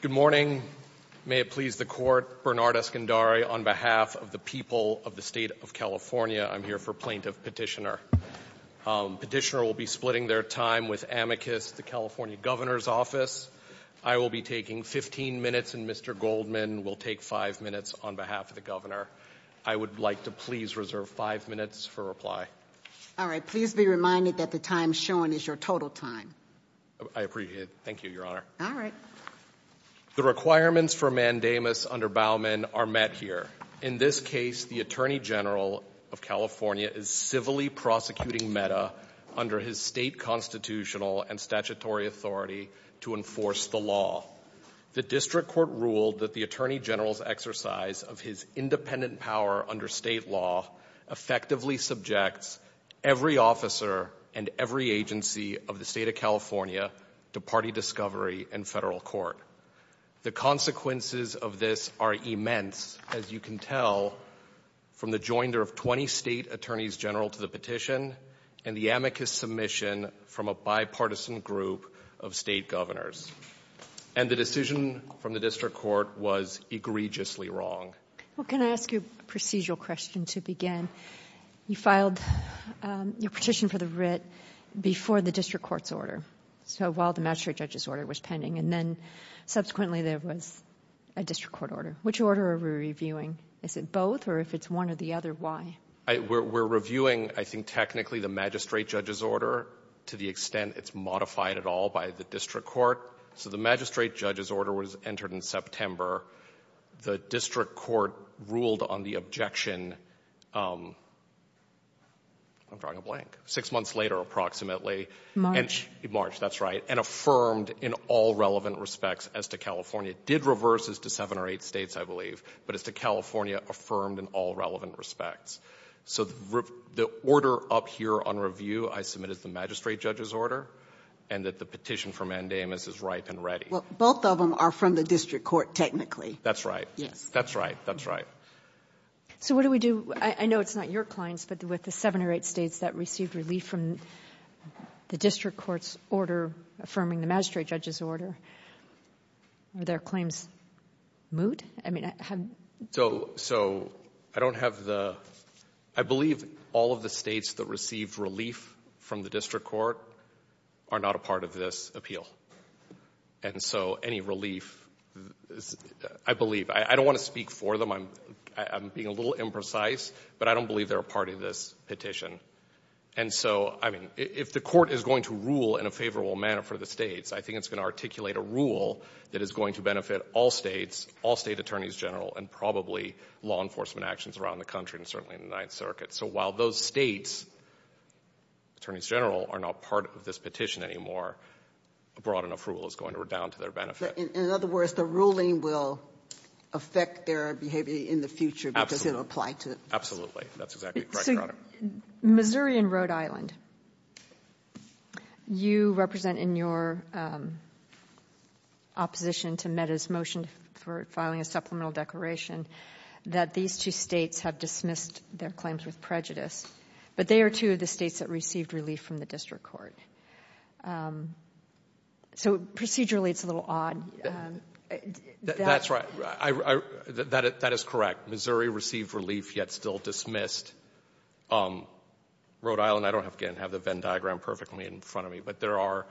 Good morning. May it please the Court, Bernard Eskandari on behalf of the people of the State of California. I'm here for plaintiff petitioner. Petitioner will be splitting their time with amicus, the California Governor's Office. I will be taking 15 minutes and Mr. Goldman will take five minutes on behalf of the Governor. I would like to please reserve five minutes for reply. All right. Please be reminded that the time shown is your total time. I appreciate it. Thank you, Your Honor. All right. The requirements for mandamus under Bauman are met here. In this case, the Attorney General of California is civilly prosecuting Meta under his state constitutional and statutory authority to enforce the law. The District Court ruled that the Attorney General's exercise of his independent power under state law effectively subjects every officer and every agency of the California to party discovery and federal court. The consequences of this are immense, as you can tell from the joinder of 20 state attorneys general to the petition and the amicus submission from a bipartisan group of state governors. And the decision from the District Court was egregiously wrong. Well, can I ask you a procedural question to begin? You filed your petition for the writ before the District Court's order, so while the magistrate judge's order was pending, and then subsequently there was a District Court order. Which order are we reviewing? Is it both or if it's one or the other, why? We're reviewing, I think, technically the magistrate judge's order to the extent it's modified at all by the District Court. So the magistrate judge's order was entered in September. The District Court ruled on the objection, I'm drawing a blank, six months later approximately. March. March, that's right, and affirmed in all relevant respects as to California. Did reverse as to seven or eight states, I believe, but as to California, affirmed in all relevant respects. So the order up here on review I submit as the magistrate judge's order and that the petition for mandamus is ripe and ready. Well, both of them are from the District Court technically. That's right. Yes. That's right. That's right. So what do we do? I know it's not your clients, but with the seven or eight states that received relief from the District Court's order affirming the magistrate judge's order, are their claims moot? I mean, so I don't have the, I believe all of the states that received relief from the District Court are not a part of this appeal. And so any relief, I believe, I don't want to speak for them. I'm being a little imprecise, but I don't believe they're a part of this petition. And so, I mean, if the Court is going to rule in a favorable manner for the states, I think it's going to articulate a rule that is going to benefit all states, all State Attorneys General, and probably law enforcement actions around the country and certainly in the Ninth Circuit. So while those states, Attorneys General, are not part of this petition anymore, a broad enough rule is going to redound to their benefit. In other words, the ruling will affect their behavior in the future because it'll apply to it. Absolutely. That's exactly correct, Your Honor. Missouri and Rhode Island, you represent in your opposition to Mehta's motion for filing a supplemental declaration that these two states have dismissed their claims with prejudice, but they are two of the states that received relief from the District Court. So procedurally, it's a little odd. That's right. That is correct. Missouri received relief, yet still dismissed. Rhode Island, I don't have the Venn diagram perfectly in front of me, but there are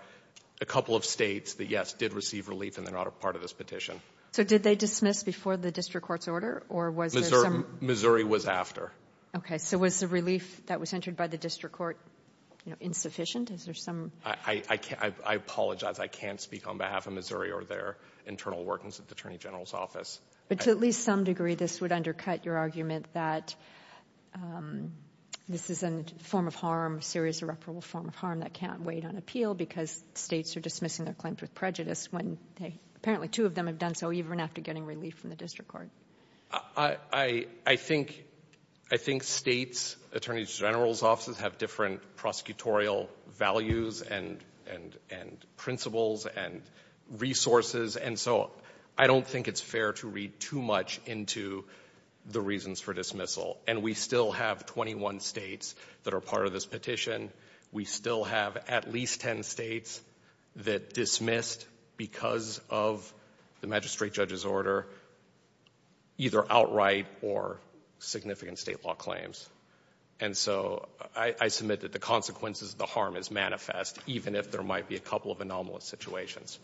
a couple of states that, yes, did receive relief and they're not a part of this petition. So did they dismiss before the District Court's order? Missouri was after. Okay. So was the relief that was entered by the District Court insufficient? Is there some... I apologize. I can't speak on behalf of Missouri or their internal workings at the Attorney General's office. But to at least some degree, this would undercut your argument that this is a form of harm, serious irreparable form of harm that can't wait on appeal because states are dismissing their claims with prejudice when apparently two of them have done so even after getting relief from the District Court. I think states' Attorney General's offices have different prosecutorial values and principles and resources, and so I don't think it's fair to read too much into the reasons for dismissal. And we still have 21 states that are part of this petition. We still have at least 10 states that dismissed because of the magistrate judge's order either outright or significant state law claims. And so I submit that the consequences of the harm is manifest even if there might be a couple of anomalous situations.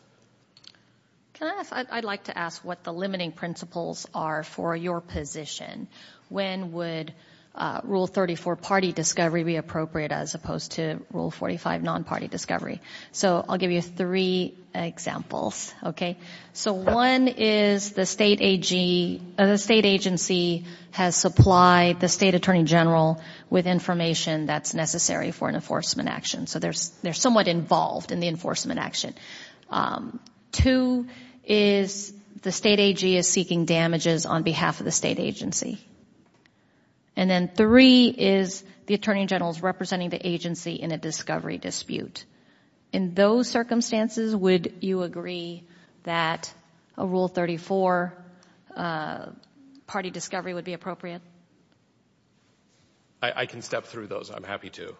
I'd like to ask what the limiting principles are for your position. When would Rule 34, party discovery, be appropriate as opposed to Rule 45, non-party discovery? So I'll give you three examples. One is the state agency has supplied the state Attorney General with information that's necessary for an enforcement action. So they're somewhat involved in the enforcement action. Two is the state AG is seeking damages on behalf of the agency. And then three is the Attorney General is representing the agency in a discovery dispute. In those circumstances, would you agree that a Rule 34 party discovery would be appropriate? I can step through those. I'm happy to.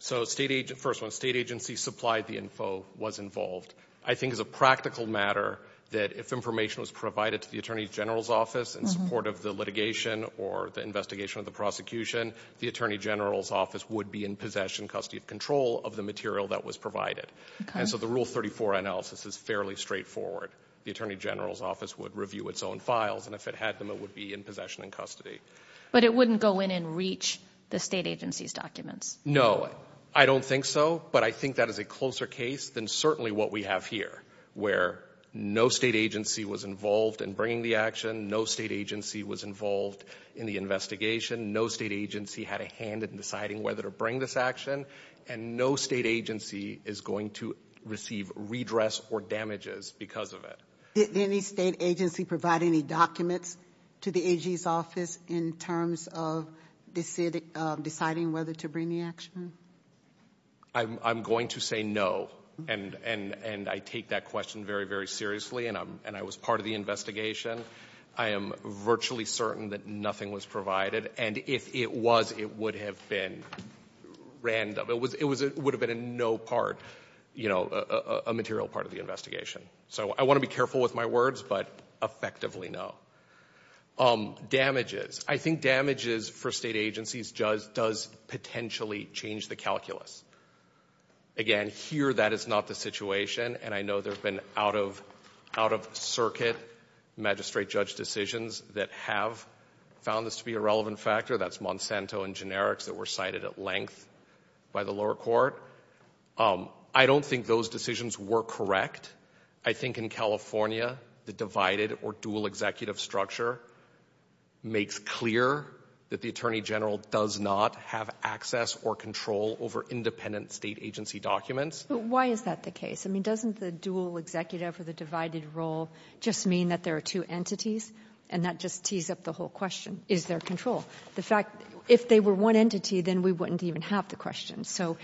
So first one, state agency supplied the info, was involved. I think it's a practical matter that if information was provided to the Attorney General's office in support of the litigation or the investigation of the prosecution, the Attorney General's office would be in possession, custody of control of the material that was provided. And so the Rule 34 analysis is fairly straightforward. The Attorney General's office would review its own files. And if it had them, it would be in possession and custody. But it wouldn't go in and reach the state agency's documents? No, I don't think so. But I think that is a closer case than certainly what we have here, where no state agency was involved in bringing the action. No state agency was involved in the investigation. No state agency had a hand in deciding whether to bring this action. And no state agency is going to receive redress or damages because of it. Did any state agency provide any documents to the AG's office in terms of deciding whether to bring the action? I'm going to say no. And I take that question very, very seriously. And I was part of the investigation. I am virtually certain that nothing was provided. And if it was, it would have been random. It would have been a no part, you know, a material part of the investigation. So I want to be careful with my words, but effectively no. Damages. I think damages for state agencies does potentially change the calculus. Again, here that is not the situation. And I know there have been out of circuit magistrate judge decisions that have found this to be a relevant factor. That's Monsanto and Generics that were cited at length by the lower court. I don't think those decisions were correct. I think in California, the divided or dual executive structure makes clear that the Attorney General does not have access or control over independent state agency documents. But why is that the case? I mean, doesn't the dual executive or the divided role just mean that there are two entities? And that just tees up the whole question, is there control? The fact, if they were one entity, then we wouldn't even have the question. So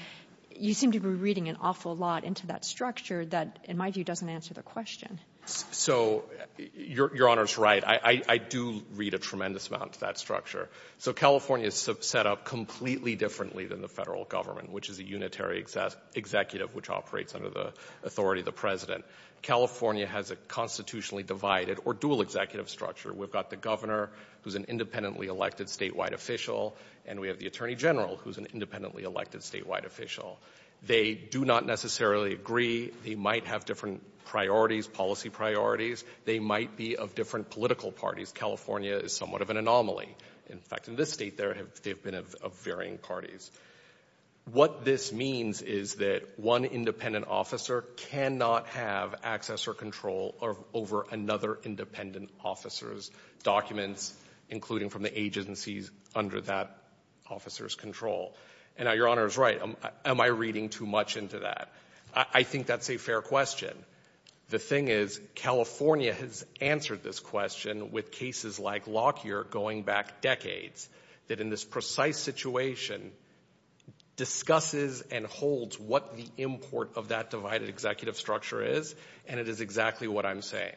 you seem to be reading an awful lot into that structure that, in my view, doesn't answer the question. So your Honor's right. I do read a tremendous amount of that structure. So California is set up completely differently than the federal government, which is a unitary executive, which operates under the authority of the President. California has a constitutionally divided or dual executive structure. We've got the Governor, who's an independently elected statewide official, and we have the Attorney General, who's an independently elected statewide official. They do not necessarily agree. They might have different priorities, policy priorities. They might be of different political parties. California is somewhat of an anomaly. In fact, in this state, they've been of varying parties. What this means is that one independent officer cannot have access or control over another independent officer's documents, including from the agencies under that officer's control. And now, your Honor's right. Am I reading too much into that? I think that's a fair question. The thing is, California has answered this question with cases like Lockyer going back decades, that in this precise situation, discusses and holds what the import of that divided executive structure is, and it is exactly what I'm saying.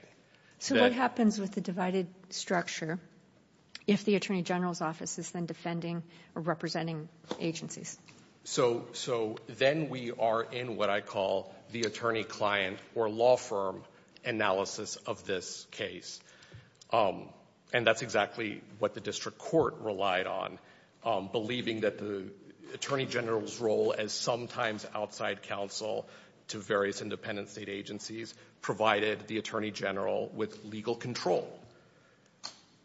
So what happens with the divided structure if the Attorney General's office is then defending or representing agencies? So then we are in what I call the attorney-client or law firm analysis of this case. And that's exactly what the District Court relied on, believing that the Attorney General's role as sometimes outside counsel to various independent state agencies provided the Attorney General with legal control.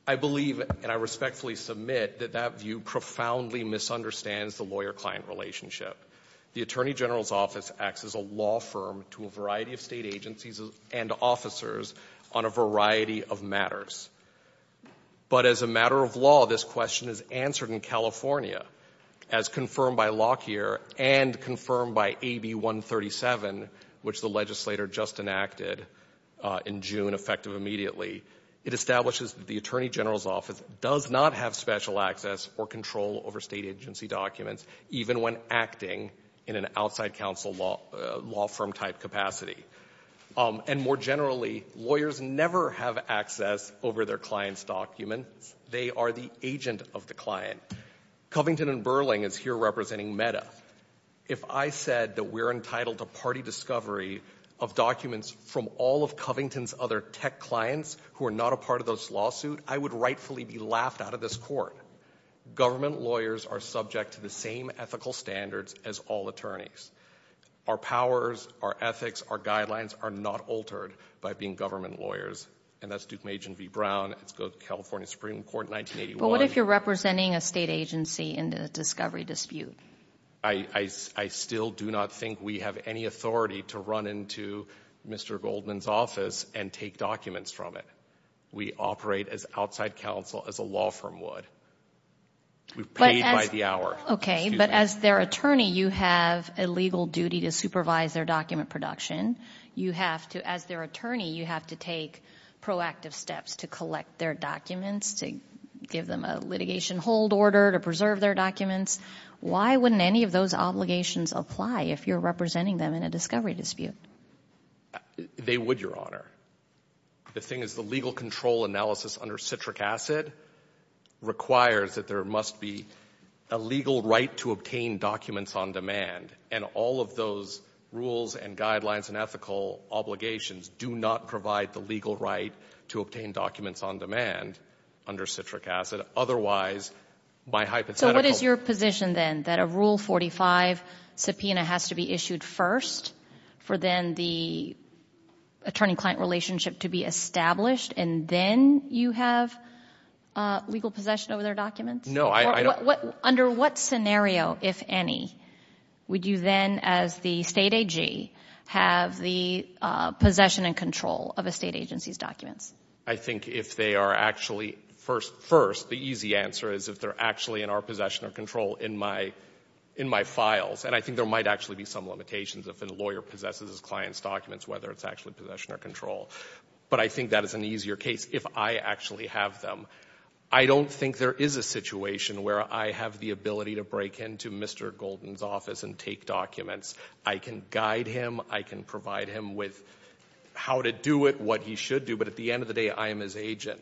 I believe, and I respectfully submit, that that view profoundly misunderstands the lawyer-client relationship. The Attorney General's office acts as a law firm to a variety of state agencies and officers on a variety of matters. But as a matter of law, this question is answered in California, as confirmed by Lockyer and confirmed by AB 137, which the legislator just enacted in June, effective immediately. It establishes the Attorney General's office does not have special access or control over state agency documents, even when acting in an outside counsel law firm-type capacity. And more generally, lawyers never have access over their client's documents. They are the agent of the client. Covington and Burling is here representing MEDA. If I said that we're entitled to party discovery of documents from all of Covington's other tech clients who are not a part of this lawsuit, I would rightfully be laughed out of this court. Government lawyers are subject to the same ethical standards as all attorneys. Our powers, our ethics, our guidelines are not altered by being government lawyers. And that's Duke Magian v. Brown. It's go to California Supreme Court in 1981. But what if you're representing a state agency in the discovery dispute? I still do not think we have any authority to run into Mr. Goldman's office and take documents from it. We operate as outside counsel, as a law firm would. We're paid by the hour. Okay. But as their attorney, you have a legal duty to supervise their document production. As their attorney, you have to take proactive steps to collect their documents, to give them a litigation hold order to preserve their documents. Why wouldn't any of those obligations apply if you're representing them in a discovery dispute? They would, Your Honor. The thing is the legal control analysis under citric acid requires that there must be a legal right to obtain documents on demand. And all of those rules and guidelines and ethical obligations do not provide the legal right to obtain documents on demand under citric acid. Otherwise, my hypothetical- So what is your position then? That a Rule 45 subpoena has to be issued first for then the attorney-client relationship to be established and then you have legal possession of their documents? No, I don't- Under what scenario, if any, would you then, as the state AG, have the possession and control of a state agency's documents? I think if they are actually, first, the easy answer is if they're actually in our possession or control in my files. And I think there might actually be some limitations if a lawyer possesses his client's documents, whether it's actually possession or control. But I think that is an easier case if I actually have them. I don't think there is a situation where I have the ability to break into Mr. Golden's office and take documents. I can guide him. I can provide him with how to do what he should do. But at the end of the day, I am his agent.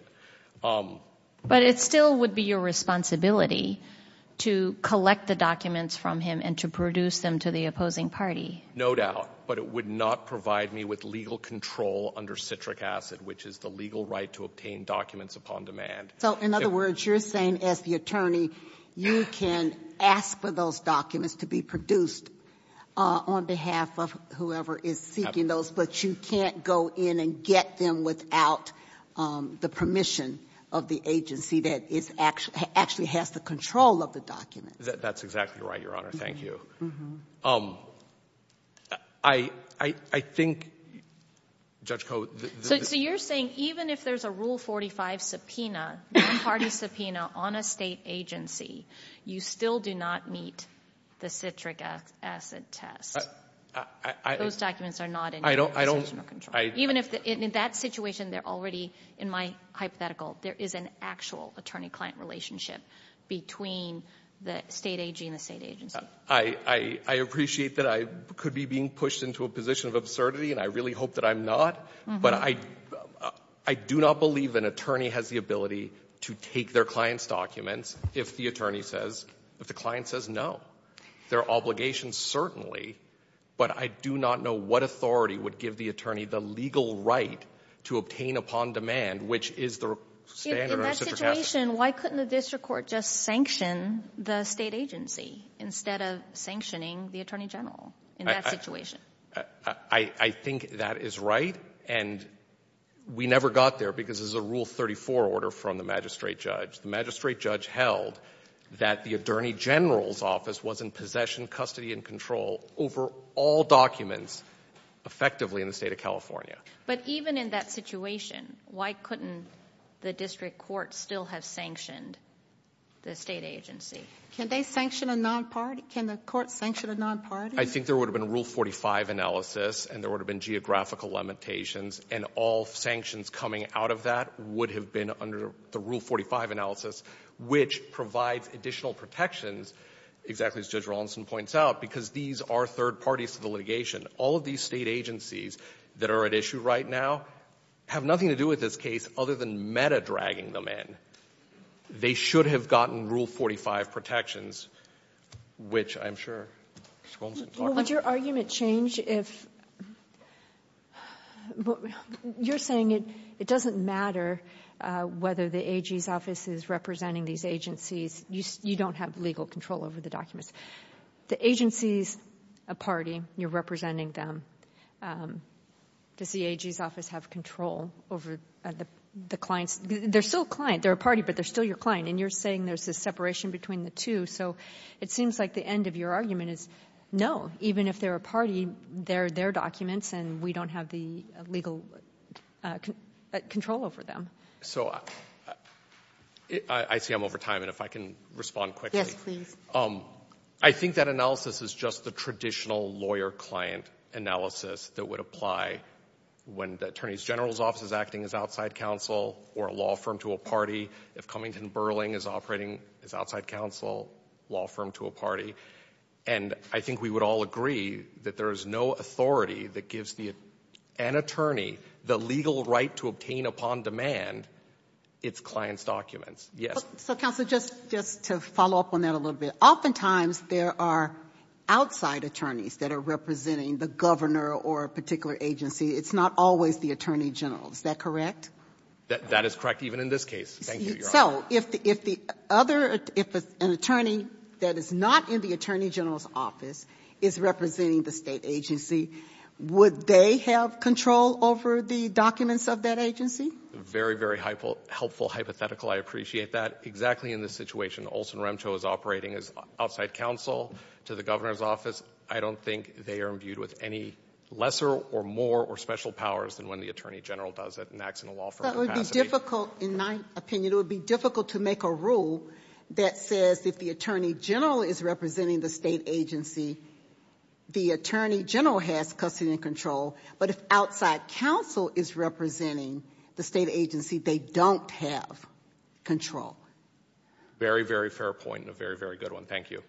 But it still would be your responsibility to collect the documents from him and to produce them to the opposing party? No doubt. But it would not provide me with legal control under citric acid, which is the legal right to obtain documents upon demand. So in other words, you're saying as the attorney, you can ask for those documents to be produced on behalf of whoever is seeking those, but you can't go in and get them without the permission of the agency that actually has the control of the document? That's exactly right, Your Honor. Thank you. I think, Judge Koh... So you're saying even if there's a Rule 45 subpoena, non-party subpoena on a state agency, you still do not meet the citric acid test. Those documents are not in your possession or control. In that situation, they're already, in my hypothetical, there is an actual attorney-client relationship between the state AG and the state agency. I appreciate that I could be being pushed into a position of absurdity, and I really hope that I'm not. But I do not believe an attorney has the ability to take their client's documents if the client says no. There are obligations, certainly, but I do not know what authority would give the attorney the legal right to obtain upon demand, which is the standard of citric acid. In that situation, why couldn't the district court just sanction the state agency instead of sanctioning the attorney general in that situation? I think that is right, and we never got there because there's a Rule 34 order from the magistrate judge. The magistrate judge held that the attorney general's office was in possession, custody, and control over all documents, effectively, in the state of California. But even in that situation, why couldn't the district court still have sanctioned the state agency? Can they sanction a non-party? Can the court sanction a non-party? I think there would have been a Rule 45 analysis, and there would have been geographical limitations, and all sanctions coming out of that would have been under the Rule 45 analysis, which provides additional protections, exactly as Judge Rawlinson points out, because these are third parties to the litigation. All of these state agencies that are at issue right now have nothing to do with this case other than meta-dragging them in. They should have gotten Rule 45 protections, which I'm sure Ms. Coulmson talked about. Would your argument change if—you're saying it doesn't matter whether the AG's office is representing these agencies. You don't have legal control over the documents. The agency's a party. You're representing them. Does the AG's office have control over the clients? They're still a client. They're a party, but they're still your client, and you're saying there's this separation between the two, so it seems like the end of your argument is no. Even if they're a party, they're their documents, and we don't have the legal control over them. So I see I'm over time, and if I can respond quickly. Yes, please. I think that analysis is just the traditional lawyer-client analysis that would apply when attorney's general's office is acting as outside counsel or a law firm to a party. If Cummington Burling is operating as outside counsel, law firm to a party. And I think we would all agree that there is no authority that gives an attorney the legal right to obtain upon demand its client's documents. Yes. So, Counsel, just to follow up on that a little bit. Oftentimes, there are outside attorneys that are representing the governor or a particular agency. It's not always the attorney general. Is that correct? That is correct, even in this case. Thank you, Your Honor. So, if the other, if an attorney that is not in the attorney general's office is representing the state agency, would they have control over the documents of that agency? Very, very helpful hypothetical. I appreciate that. Exactly in this situation, Olson Remto is operating as outside counsel to the governor's office. I don't think they are imbued with any lesser or more or special powers than when the attorney general does it and acts in a law firm capacity. That would be difficult. In my opinion, it would be difficult to make a rule that says if the attorney general is representing the state agency, the attorney general has custody and control. But if outside counsel is representing the state agency, they don't have control. Very, very fair point and a very, very good one. Thank you.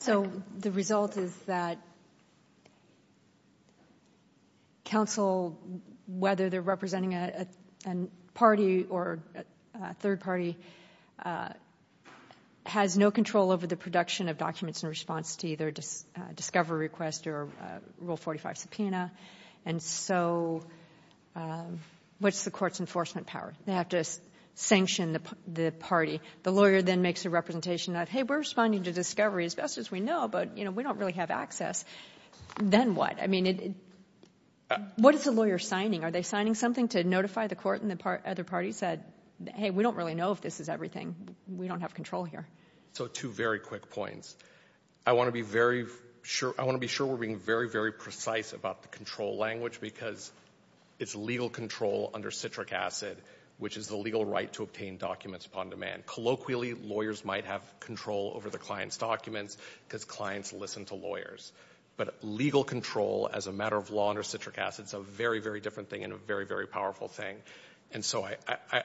So, the result is that counsel, whether they're representing a party or a third party, has no control over the production of documents in response to either a discovery request or Rule 45 subpoena. And so, what's the court's enforcement power? They have to sanction the party. The lawyer then makes a representation that, hey, we're responding to discovery as best as we know, but we don't really have access. Then what? I mean, what is the lawyer signing? Are they signing something to notify the court and the other parties that, hey, we don't really know if this is everything. We don't have control here. So, two very quick points. I want to be sure we're being very, very precise about the control language because it's legal control under citric acid, which is the legal right to obtain documents upon demand. Colloquially, lawyers might have control over the client's documents because clients listen to lawyers. But legal control as a matter of law under citric acid is a very, very different thing and a very, very powerful thing. And so,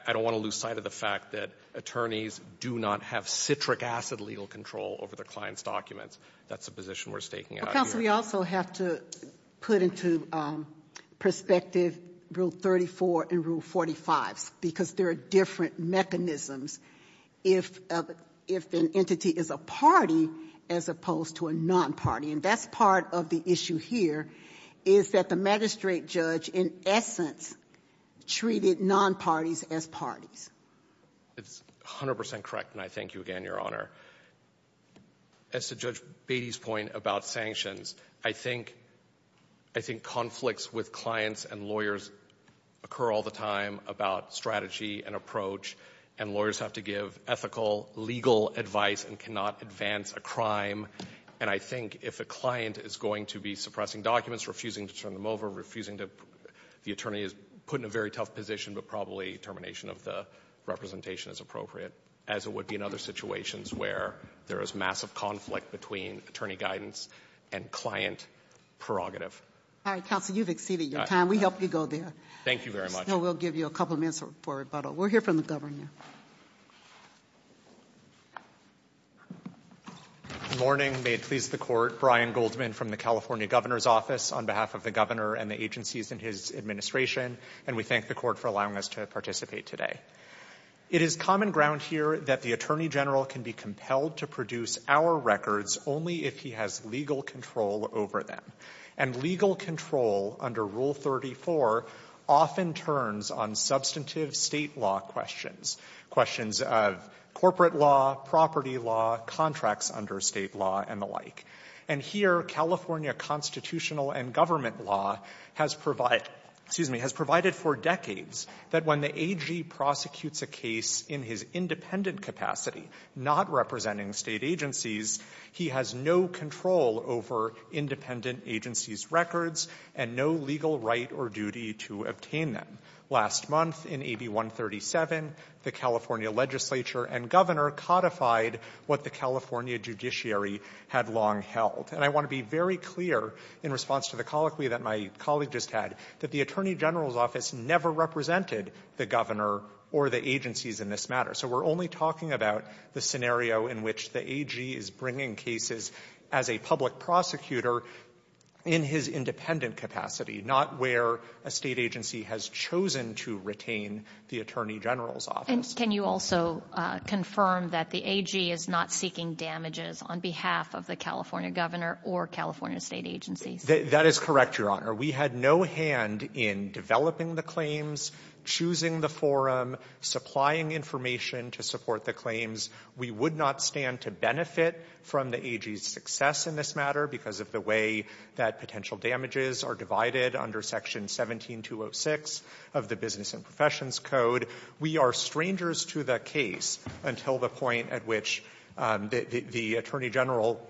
I don't want to lose sight of the fact that attorneys do not have citric acid legal control over the client's documents. That's a position we're staking out here. We also have to put into perspective Rule 34 and Rule 45 because there are different mechanisms if an entity is a party as opposed to a non-party. And that's part of the issue here is that the magistrate judge, in essence, treated non-parties as parties. It's 100% correct, and I thank you again, Your Honor. As to Judge Beatty's point about sanctions, I think conflicts with clients and lawyers occur all the time about strategy and approach, and lawyers have to give ethical, legal advice and cannot advance a crime. And I think if a client is going to be suppressing documents, refusing to turn them over, refusing to — the attorney is put in a very tough position, but probably termination of the representation is appropriate, as it would be in other situations where there is massive conflict between attorney guidance and client prerogative. All right, counsel, you've exceeded your time. We hope you go there. Thank you very much. We'll give you a couple of minutes for rebuttal. We'll hear from the governor. Good morning. May it please the Court. Brian Goldman from the California Governor's Office on behalf of the governor and the agencies in his administration, and we thank the Court for allowing us to participate today. It is common ground here that the attorney general can be compelled to produce our records only if he has legal control over them. And legal control under Rule 34 often turns on substantive state law questions, questions of corporate law, property law, contracts under state law, and the like. And here, California constitutional and government law has provided — excuse me — has a case in his independent capacity, not representing state agencies. He has no control over independent agencies' records and no legal right or duty to obtain them. Last month, in AB 137, the California legislature and governor codified what the California judiciary had long held. And I want to be very clear in response to the colloquy that my colleague just said, that the attorney general's office never represented the governor or the agencies in this matter. So we're only talking about the scenario in which the AG is bringing cases as a public prosecutor in his independent capacity, not where a state agency has chosen to retain the attorney general's office. And can you also confirm that the AG is not seeking damages on behalf of the California governor or California state agencies? That is correct, Your Honor. We had no hand in developing the claims, choosing the forum, supplying information to support the claims. We would not stand to benefit from the AG's success in this matter because of the way that potential damages are divided under Section 17206 of the Business and Professions Code. We are strangers to the case until the point at which the attorney general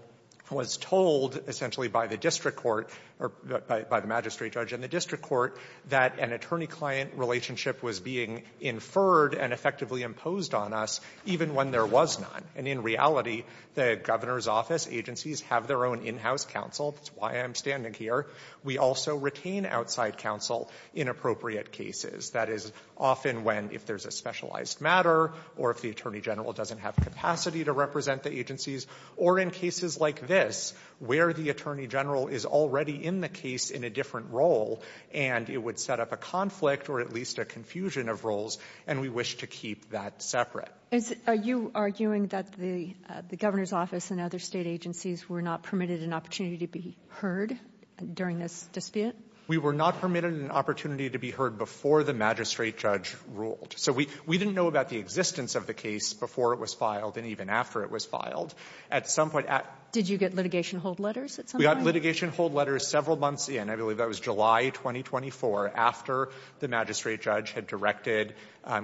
was told, essentially by the district court or by the magistrate judge in the district court, that an attorney-client relationship was being inferred and effectively imposed on us, even when there was none. And in reality, the governor's office agencies have their own in-house counsel. That's why I'm standing here. We also retain outside counsel in appropriate cases. That is often when, if there's a specialized matter or if the attorney general doesn't have capacity to represent the agencies, or in cases like this, where the attorney general is already in the case in a different role, and it would set up a conflict or at least a confusion of roles, and we wish to keep that separate. Are you arguing that the governor's office and other state agencies were not permitted an opportunity to be heard during this dispute? We were not permitted an opportunity to be heard before the magistrate judge ruled. We didn't know about the existence of the case before it was filed and even after it was filed. Did you get litigation hold letters at some point? We got litigation hold letters several months in. I believe that was July 2024, after the magistrate judge had directed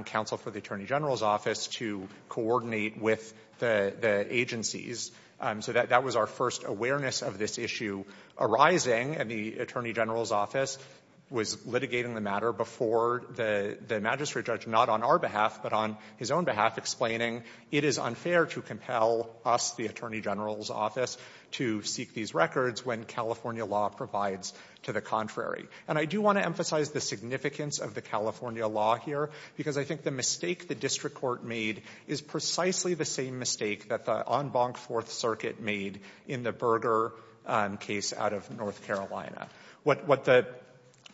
counsel for the attorney general's office to coordinate with the agencies. That was our first awareness of this issue arising, and the attorney general's office was litigating the matter before the magistrate judge, not on our behalf, but on his own behalf, explaining it is unfair to compel us, the attorney general's office, to seek these records when California law provides to the contrary. And I do want to emphasize the significance of the California law here, because I think the mistake the district court made is precisely the same mistake that the John Bonk Fourth Circuit made in the Berger case out of North Carolina. What the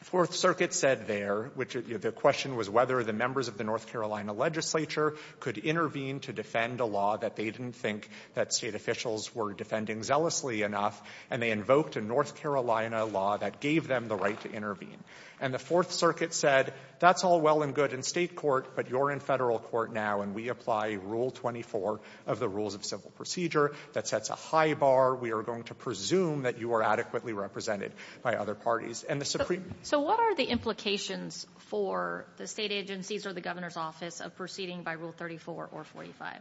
Fourth Circuit said there, which the question was whether the members of the North Carolina legislature could intervene to defend a law that they didn't think that State officials were defending zealously enough, and they invoked a North Carolina law that gave them the right to intervene. And the Fourth Circuit said, that's all well and good in State court, but you're in Federal court now, and we apply Rule 24 of the Rules of Civil Procedure. That sets a high bar. We are going to presume that you are adequately represented by other parties. And the Supreme — So what are the implications for the State agencies or the governor's office of proceeding by Rule 34 or 45?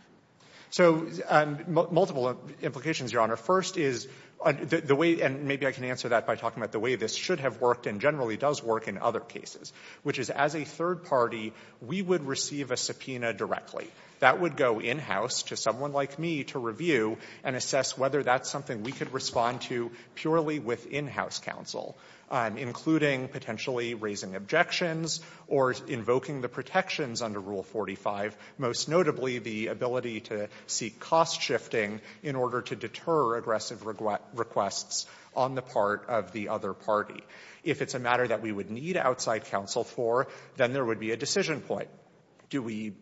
So, multiple implications, Your Honor. First is, the way — and maybe I can answer that by talking about the way this should have worked and generally does work in other cases, which is, as a third party, we would receive a subpoena directly. That would go in-house to someone like me to review and assess whether that's something we could respond to purely with in-house counsel, including potentially raising objections or invoking the protections under Rule 45, most notably the ability to seek cost-shifting in order to deter aggressive requests on the part of the other party. If it's a matter that we would need outside counsel for, then there would be a decision point. Do we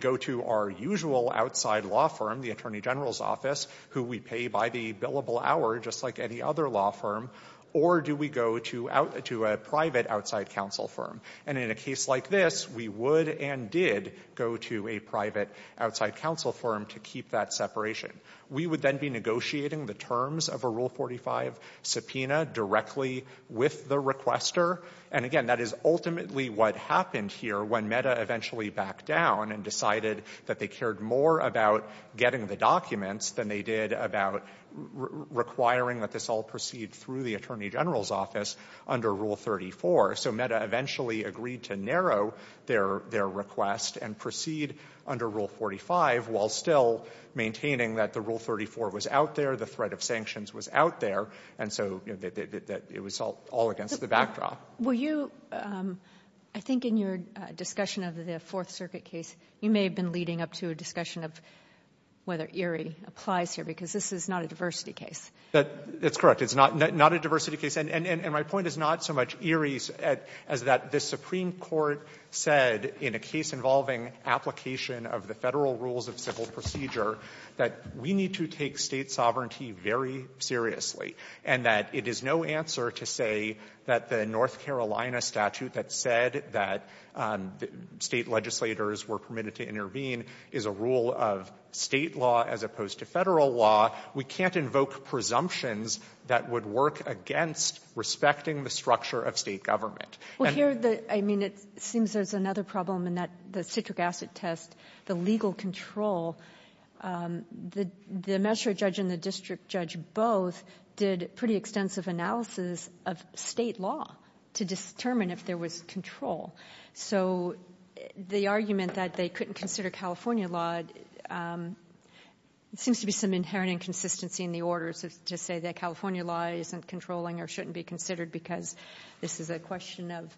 go to our usual outside law firm, the Attorney General's office, who we pay by the billable hour, just like any other law firm, or do we go to a private outside counsel firm? And in a case like this, we would and did go to a private outside counsel firm to keep that separation. We would then be negotiating the terms of a Rule 45 subpoena directly with the requester. And again, that is ultimately what happened here when MEDA eventually backed down and decided that they cared more about getting the documents than they did about requiring that this all proceed through the Attorney General's office under Rule 34. So MEDA eventually agreed to narrow their request and proceed under Rule 45 while still maintaining that the Rule 34 was out there, the threat of sanctions was out there, and so it was all against the backdrop. Kagan. Were you, I think in your discussion of the Fourth Circuit case, you may have been leading up to a discussion of whether Erie applies here, because this is not a diversity case. That's correct. It's not a diversity case. And my point is not so much Erie as that the Supreme Court said in a case involving application of the Federal rules of civil procedure that we need to take State sovereignty very seriously, and that it is no answer to say that the North Carolina statute that said that State legislators were permitted to intervene is a rule of State law as opposed to Federal law. We can't invoke presumptions that would work against respecting the structure of State government. Well, here, I mean, it seems there's another problem in that the citric acid test, the legal control, the magistrate judge and the district judge both did pretty extensive analysis of State law to determine if there was control. So the argument that they couldn't consider California law, it seems to be some inherent inconsistency in the orders to say that California law isn't controlling or shouldn't be considered because this is a question of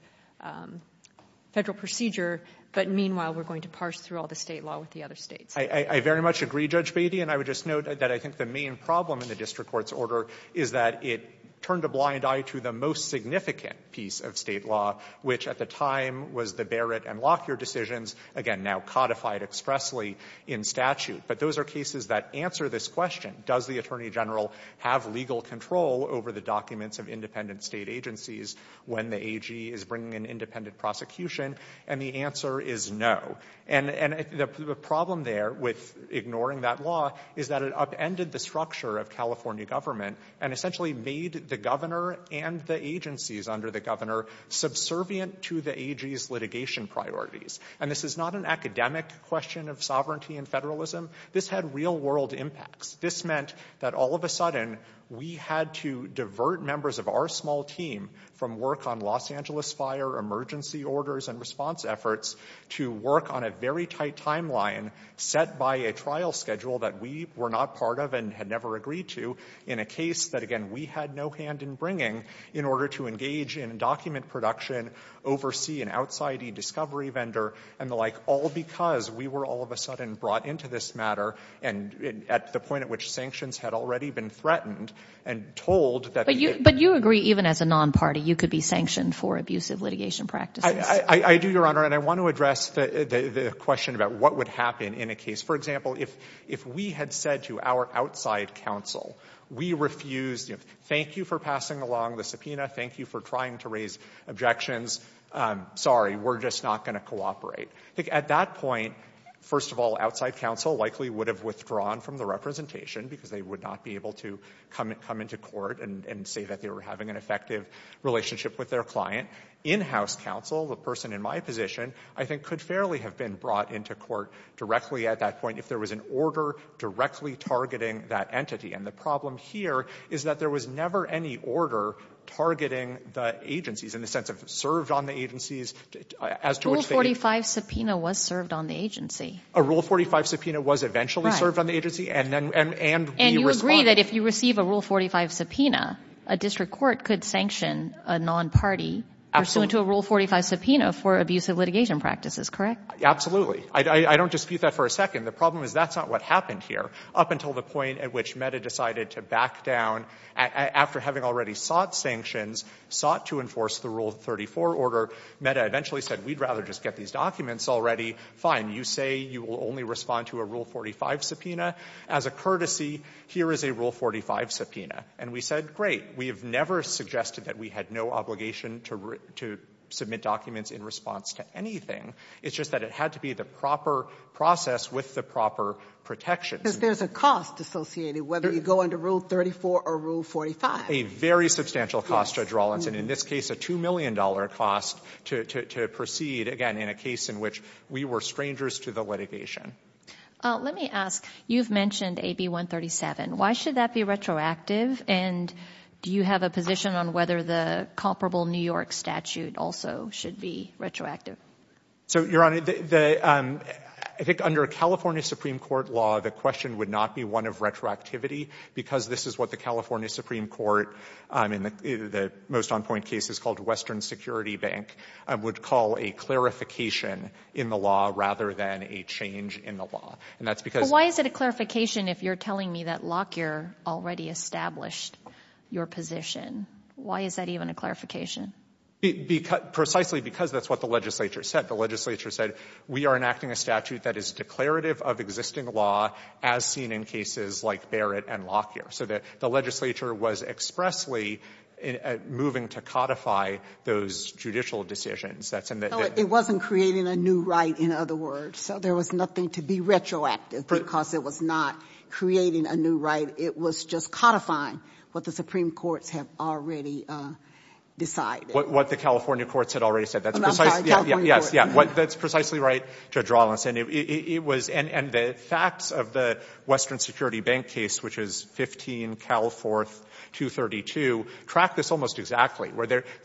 Federal procedure, but meanwhile, we're going to parse through all the State law with the other States. I very much agree, Judge Beatty, and I would just note that I think the main problem in the district court's order is that it turned a blind eye to the most significant piece of State law, which at the time was the Barrett and Lockyer decisions, again, now codified expressly in statute. But those are cases that answer this question, does the Attorney General have legal control over the documents of independent State agencies when the AG is bringing an independent prosecution? And the answer is no. And the problem there with ignoring that law is that it upended the structure of California government and essentially made the governor and the agencies under the governor subservient to the AG's litigation priorities. And this is not an academic question of sovereignty and federalism. This had real-world impacts. This meant that all of a sudden we had to divert members of our small team from work on Los Angeles fire emergency orders and response efforts to work on a very tight timeline set by a trial schedule that we were not part of and had never agreed to in a case that, again, we had no hand in bringing in order to engage in document production, oversee an outside e-discovery vendor, and the like, all because we were all of a sudden brought into this matter and at the point at which sanctions had already been threatened and told that the AG— But you agree, even as a non-party, you could be sanctioned for abusive litigation practices? I do, Your Honor, and I want to address the question about what would happen in a case. For example, if we had said to our outside counsel, we refused, thank you for passing along the subpoena, thank you for trying to raise objections, sorry, we're just not going to cooperate. At that point, first of all, outside counsel likely would have withdrawn from the representation because they would not be able to come into court and say that they were having an effective relationship with their client. In-house counsel, the person in my position, I think could fairly have been brought into court directly at that point if there was an order directly targeting that entity. And the problem here is that there was never any order targeting the agencies in the sense of served on the agencies as to which they— Rule 45 subpoena was served on the agency. A Rule 45 subpoena was eventually served on the agency, and we responded— And you agree that if you receive a Rule 45 subpoena, a district court could sanction a non-party pursuant to a Rule 45 subpoena for abusive litigation practices, correct? Absolutely. I don't dispute that for a second. The problem is that's not what happened here. Up until the point at which Meta decided to back down after having already sought sanctions, sought to enforce the Rule 34 order, Meta eventually said, we'd rather just get these documents already. Fine. You say you will only respond to a Rule 45 subpoena. As a courtesy, here is a Rule 45 subpoena. And we said, great. We have never suggested that we had no obligation to submit documents in response to anything. It's just that it had to be the proper process with the proper protections. Because there's a cost associated whether you go under Rule 34 or Rule 45. A very substantial cost, Judge Rawlinson. In this case, a $2 million cost to proceed, again, in a case in which we were strangers to the litigation. Let me ask, you've mentioned AB 137. Why should that be retroactive? And do you have a position on whether the comparable New York statute also should be retroactive? So, Your Honor, I think under California Supreme Court law, the question would not be one of the most on-point cases called Western Security Bank. I would call a clarification in the law rather than a change in the law. And that's because Why is it a clarification if you're telling me that Lockyer already established your position? Why is that even a clarification? Precisely because that's what the legislature said. The legislature said, we are enacting a statute that is declarative of existing law as seen in cases like Barrett and Lockyer. So, the legislature was expressly moving to codify those judicial decisions. It wasn't creating a new right, in other words. So, there was nothing to be retroactive because it was not creating a new right. It was just codifying what the Supreme Courts have already decided. What the California courts had already said. That's precisely right, Judge Rawlinson. And the facts of the Western Security Bank case, which is 15 Cal 4232, track this almost exactly.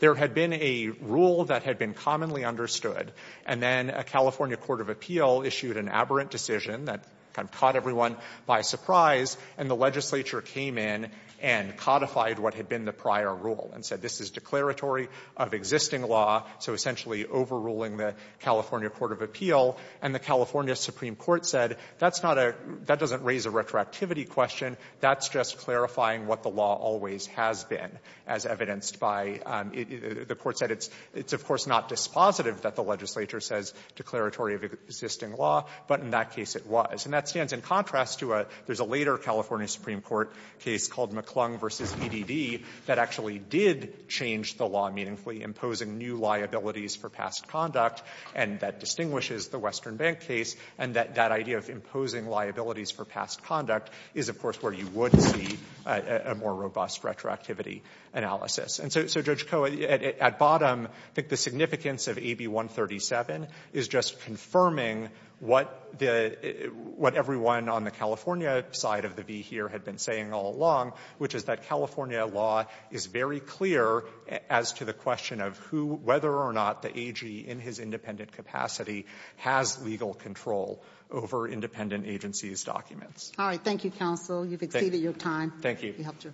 There had been a rule that had been commonly understood, and then a California court of appeal issued an aberrant decision that kind of caught everyone by surprise, and the legislature came in and codified what had been the prior rule and said, this is declaratory of existing law, so essentially overruling the California court of appeal, and the California Supreme Court said, that's not a — that doesn't raise a retroactivity question. That's just clarifying what the law always has been, as evidenced by — the court said it's, of course, not dispositive that the legislature says declaratory of existing law, but in that case it was. And that stands in contrast to a — there's a later California Supreme Court case called McClung v. Edd that actually did change the law meaningfully, imposing new liabilities for past conduct, and that distinguishes the Western Bank case, and that that idea of imposing liabilities for past conduct is, of course, where you would see a more robust retroactivity analysis. And so, Judge Koh, at bottom, I think the significance of AB 137 is just confirming what the — what everyone on the California side of the V here had been saying all along, which is that California law is very clear as to the question of who — whether or not the AG, in his independent capacity, has legal control over independent agencies' documents. All right. Thank you, counsel. You've exceeded your time. Thank you. We hope to.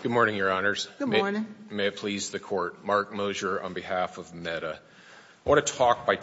Good morning, Your Honors. Good morning. May it please the Court. Mark Mosier on behalf of MEDA. I want to talk by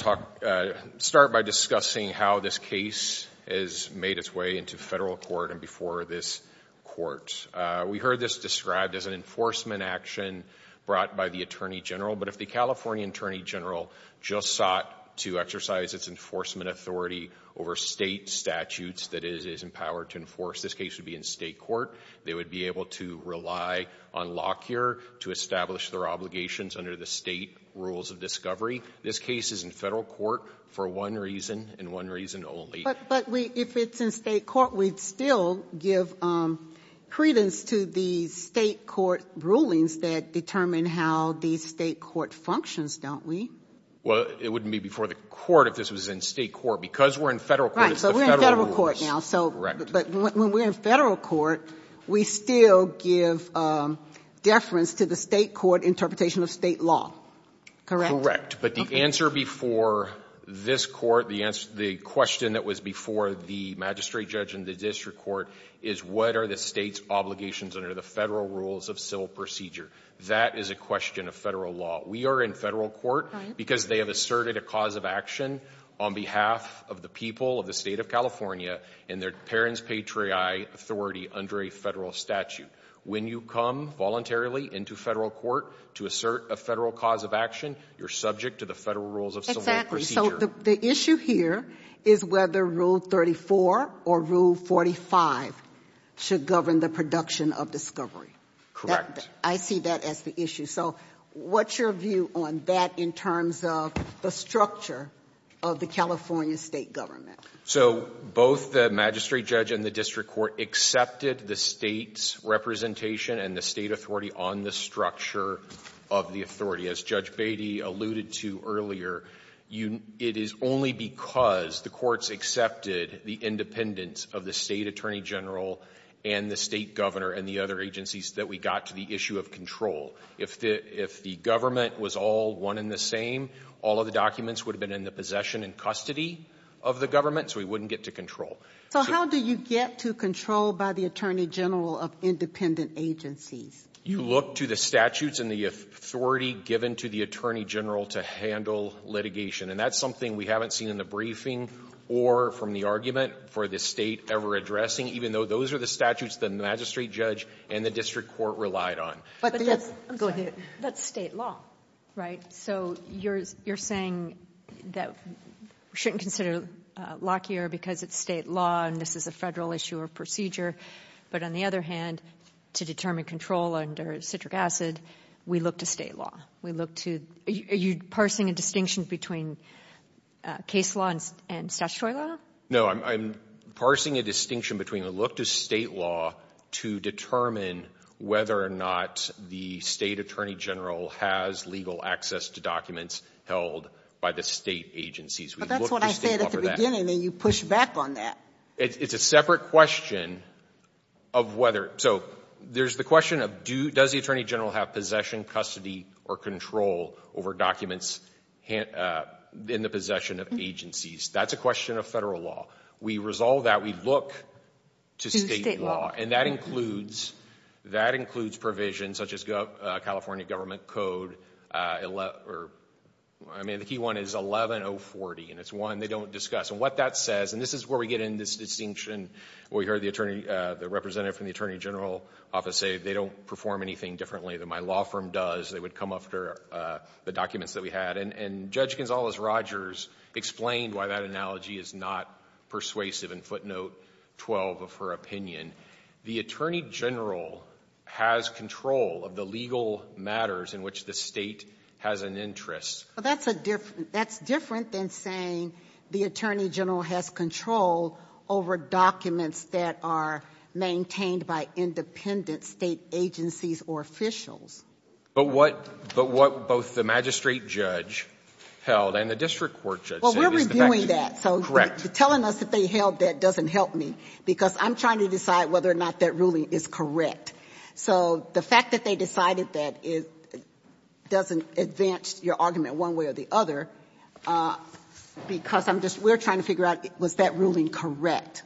— start by discussing how this case has made its way into federal court and before this court. We heard this described as an enforcement action brought by the Attorney General, but if the California Attorney General just sought to exercise its enforcement authority over state statutes that it is empowered to enforce, this case would be in state court. They would be able to rely on Lockyer to establish their obligations under the state rules of discovery. This case is in federal court for one reason and one reason only. But we — if it's in state court, we'd still give credence to the state court rulings that determine how the state court functions, don't we? Well, it wouldn't be before the court if this was in state court. Because we're in federal court, it's the federal rules. Right. So we're in federal court now. Correct. But when we're in federal court, we still give deference to the state court interpretation of state law. Correct. Correct. But the answer before this court — the question that was before the magistrate judge and the district court is, what are the state's obligations under the federal rules of civil procedure? That is a question of federal law. We are in federal court because they have asserted a cause of action on behalf of the people of the state of California and their parents' patriae authority under a federal statute. When you come voluntarily into federal court to assert a federal cause of action, you're subject to the federal rules of civil procedure. Exactly. So the issue here is whether Rule 34 or Rule 45 should govern the production of discovery. Correct. I see that as the issue. So what's your view on that in terms of the structure of the California state government? So both the magistrate judge and the district court accepted the State's representation and the State authority on the structure of the authority. As Judge Beatty alluded to earlier, it is only because the courts accepted the independence of the State attorney general and the State governor and the other agencies that we got to the issue of control. If the government was all one and the same, all of the documents would have been in the possession and custody of the government, so we wouldn't get to control. So how do you get to control by the attorney general of independent agencies? You look to the statutes and the authority given to the attorney general to handle litigation. And that's something we haven't seen in the briefing or from the argument for the State ever addressing, even though those are the statutes the magistrate judge and the district court relied on. But that's State law, right? So you're saying that we shouldn't consider Lockyer because it's State law and this is a Federal issue or procedure, but on the other hand, to determine control under citric acid, we look to State law. Are you parsing a distinction between case law and statutory law? No, I'm parsing a distinction between a look to State law to determine whether or not the State attorney general has legal access to documents held by the State agencies. But that's what I said at the beginning, that you push back on that. It's a separate question of whether, so there's the question of does the attorney general have possession, custody, or control over documents in the possession of agencies? That's a question of Federal law. We resolve that, we look to State law, and that includes provisions such as California Government Code, I mean the key one is 11-040, and it's one they don't discuss. And what that says, and this is where we get in this distinction, where we heard the representative from the attorney general office say they don't perform anything differently than my law firm does, they would come after the documents that we had. And Judge Gonzalez- Rogers explained why that analogy is not persuasive in footnote 12 of her opinion. The attorney general has control of the legal matters in which the State has an interest. Well, that's a different, that's different than saying the attorney general has control over documents that are maintained by independent State agencies or officials. But what, but what both the magistrate judge held and the district court judge said is the fact that... Well, we're reviewing that. Correct. So telling us that they held that doesn't help me, because I'm trying to decide whether or not that ruling is correct. So the fact that they decided that doesn't advance your argument one way or the other, because I'm just, we're trying to figure out, was that ruling correct?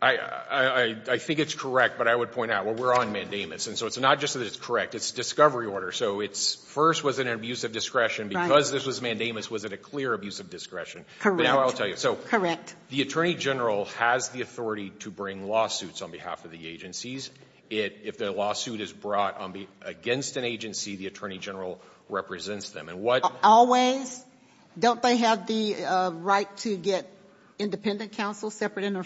I think it's correct, but I would point out, well, we're on mandamus, and so it's not just that it's correct, it's a discovery order. So it's first was an abuse of discretion, because this was mandamus was it a clear abuse of discretion. Correct. But now I'll tell you. Correct. The attorney general has the authority to bring lawsuits on behalf of the agencies. If their lawsuit is brought against an agency, the attorney general represents them. And what... Always. Don't they have the right to get independent counsel separate and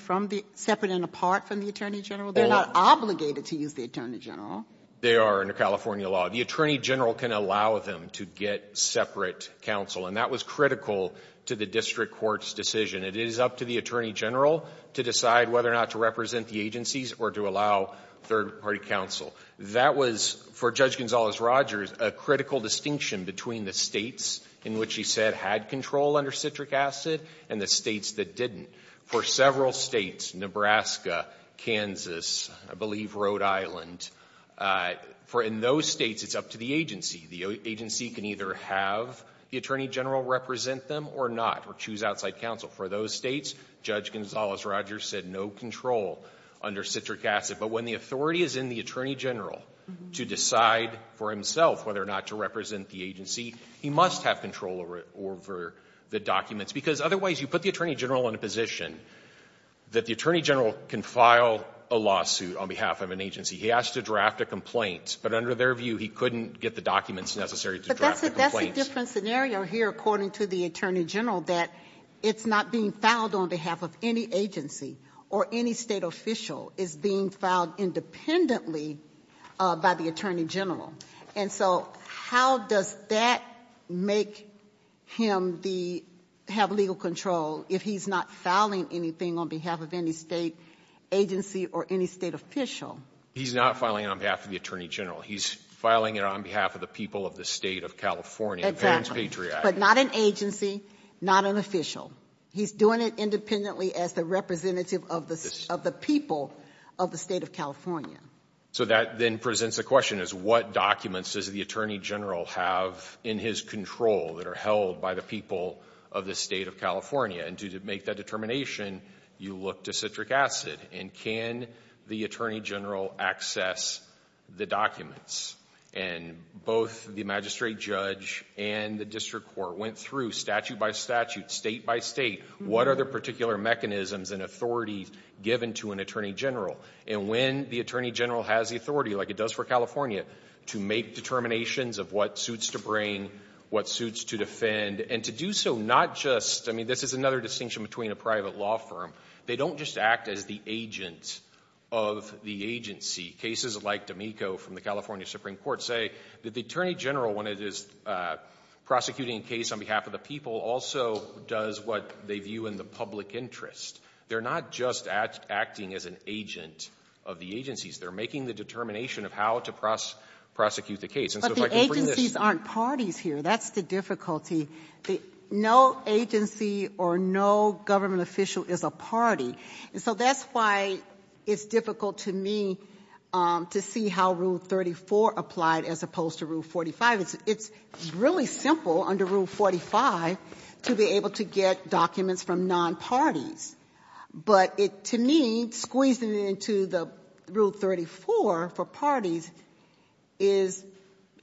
apart from the attorney general? They're not obligated to use the attorney general. They are under California law. The attorney general can allow them to get separate counsel. And that was critical to the district court's decision. It is up to the attorney general to decide whether or not to represent the agencies or to allow third-party counsel. That was, for Judge Gonzalez-Rogers, a critical distinction between the states in which he said had control under citric acid and the states that didn't. For several states, Nebraska, Kansas, I believe Rhode Island, for in those states, it's up to the agency. The agency can either have the attorney general represent them or not, or choose outside counsel. For those states, Judge Gonzalez-Rogers said no control under citric acid. But when the authority is in the attorney general to decide for himself whether or not to represent the agency, he must have control over the documents. Because otherwise, you put the attorney general in a position that the attorney general can file a lawsuit on behalf of an agency. He has to draft a complaint. But under their view, he couldn't get the documents necessary to draft the But there's a different scenario here, according to the attorney general, that it's not being filed on behalf of any agency or any state official. It's being filed independently by the attorney general. And so how does that make him have legal control if he's not filing anything on behalf of any state agency or any state official? He's not filing it on behalf of the attorney general. He's filing it on behalf of the people of the state of California. Exactly. But not an agency, not an official. He's doing it independently as the representative of the people of the state of California. So that then presents a question as what documents does the attorney general have in his control that are held by the people of the state of California? And to make that determination, you look to citric acid. And can the attorney general access the documents? And both the magistrate judge and the district court went through statute by statute, state by state, what are the particular mechanisms and authorities given to an attorney general? And when the attorney general has the authority, like it does for California, to make determinations of what suits to bring, what suits to defend, and to do so not just, I mean, this is another distinction between a private law firm. They don't just act as the agent of the agency. Cases like D'Amico from the California Supreme Court say that the attorney general, when it is prosecuting a case on behalf of the people, also does what they view in the public interest. They're not just acting as an agent of the agencies. They're making the determination of how to prosecute the case. But the agencies aren't parties here. That's the difficulty. No agency or no government official is a party. And so that's why it's difficult to me to see how Rule 34 applied as opposed to Rule 45. It's really simple under Rule 45 to be able to get documents from non-parties. But it, to me, squeezing it into the Rule 34 for parties is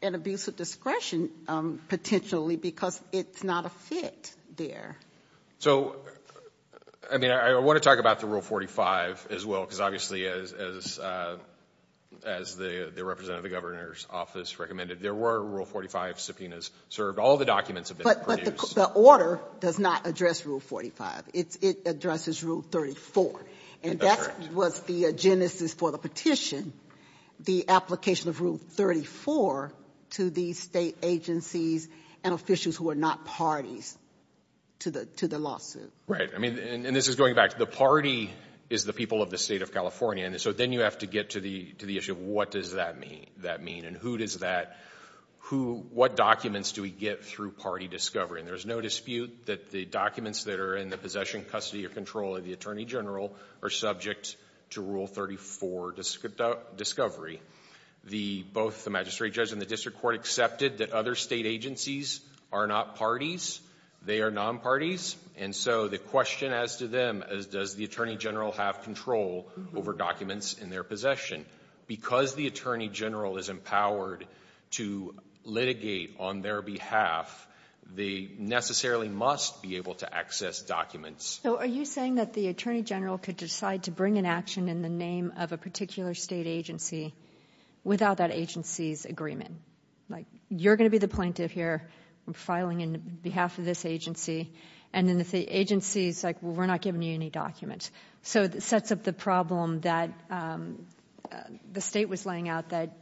an abuse of discretion, potentially, because it's not a fit there. So, I mean, I want to talk about the Rule 45 as well, because obviously, as the representative of the governor's office recommended, there were Rule 45 subpoenas served. All the documents have been produced. But the order does not address Rule 45. It addresses Rule 34. And that was the genesis for the petition, the application of Rule 34 to the state agencies and officials who are not parties to the lawsuit. Right. I mean, and this is going back. The party is the people of the state of California. And so then you have to get to the issue of what does that mean? And who does that, what documents do we get through party discovery? And there's no dispute that the documents that are in the possession, custody, or control of the attorney general are subject to Rule 34 discovery. Both the magistrate and the district court accepted that other state agencies are not parties. They are non-parties. And so the question as to them is does the attorney general have control over documents in their possession? Because the attorney general is empowered to litigate on their behalf, they necessarily must be able to access documents. So are you saying that the attorney general could decide to bring an action in the name of a particular state agency without that agency's agreement? Like you're going to be the plaintiff here. I'm filing on behalf of this agency. And then if the agency is like, well, we're not giving you any documents. So it sets up the problem that the state was laying out that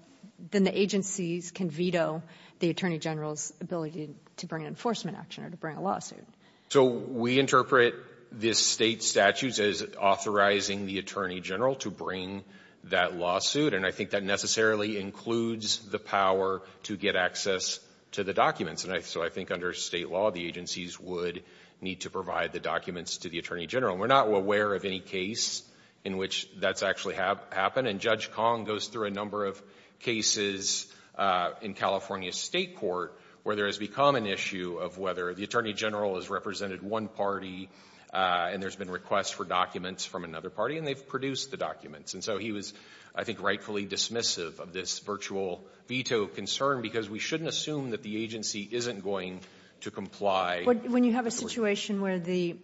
then the agencies can veto the attorney general's ability to bring an enforcement action or to bring a lawsuit. So we interpret this State statute as authorizing the attorney general to bring that lawsuit. And I think that necessarily includes the power to get access to the documents. And so I think under State law, the agencies would need to provide the documents to the attorney general. We're not aware of any case in which that's actually happened. And Judge Kong goes through a number of cases in California State court where there has become an issue of whether the attorney general has represented one party and there's been requests for documents from another party and they've produced the documents. And so he was, I think, rightfully dismissive of this virtual veto concern because we shouldn't assume that the agency isn't going to comply. When you have a situation where the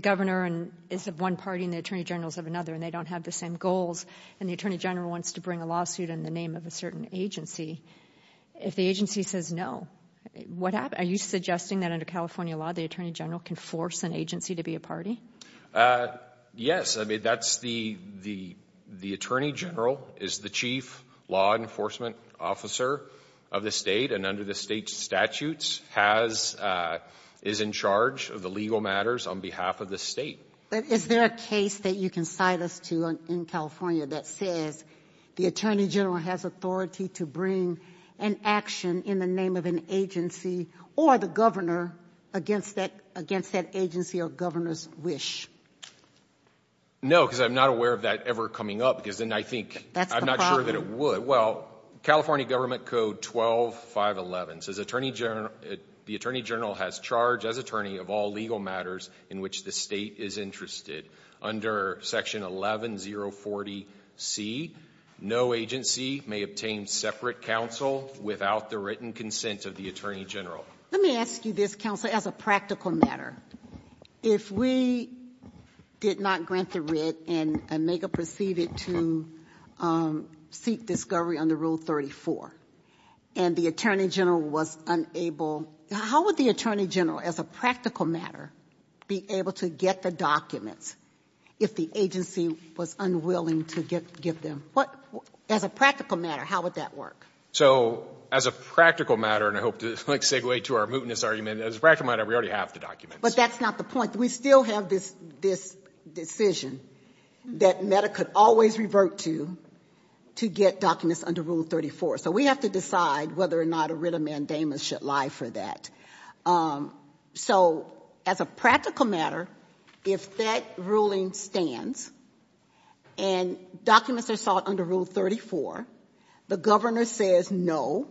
governor is of one party and the attorney general is of another and they don't have the same goals and the attorney general wants to bring a lawsuit in the name of a certain agency, if the agency says no, what happens? Are you suggesting that under California law, the attorney general can force an agency to be a party? Yes. I mean, that's the attorney general is the chief law enforcement officer of the State and under the State statutes is in charge of the legal matters on behalf of the State. Is there a case that you can cite us to in California that says the attorney general has authority to bring an action in the name of an agency or the governor against that agency or governor's wish? No, because I'm not aware of that ever coming up because then I think I'm not sure that it would. Well, California Government Code 12-511 says the attorney general has charge as attorney of all legal matters in which the State is interested. Under Section 11-040C, no agency may obtain separate counsel without the written consent of the attorney general. Let me ask you this, counsel, as a practical matter. If we did not grant the writ and make a proceeding to seek discovery under Rule 34 and the attorney general was unable, how would the attorney general as a practical matter be able to get the documents if the agency was unwilling to give them? As a practical matter, how would that work? So as a practical matter, and I hope to segue to our mootness argument, as a practical matter, we already have the documents. But that's not the point. We still have this decision that MEDA could always revert to to get documents under Rule 34. So we have to decide whether or not a mandamus should lie for that. So as a practical matter, if that ruling stands and documents are sought under Rule 34, the governor says no,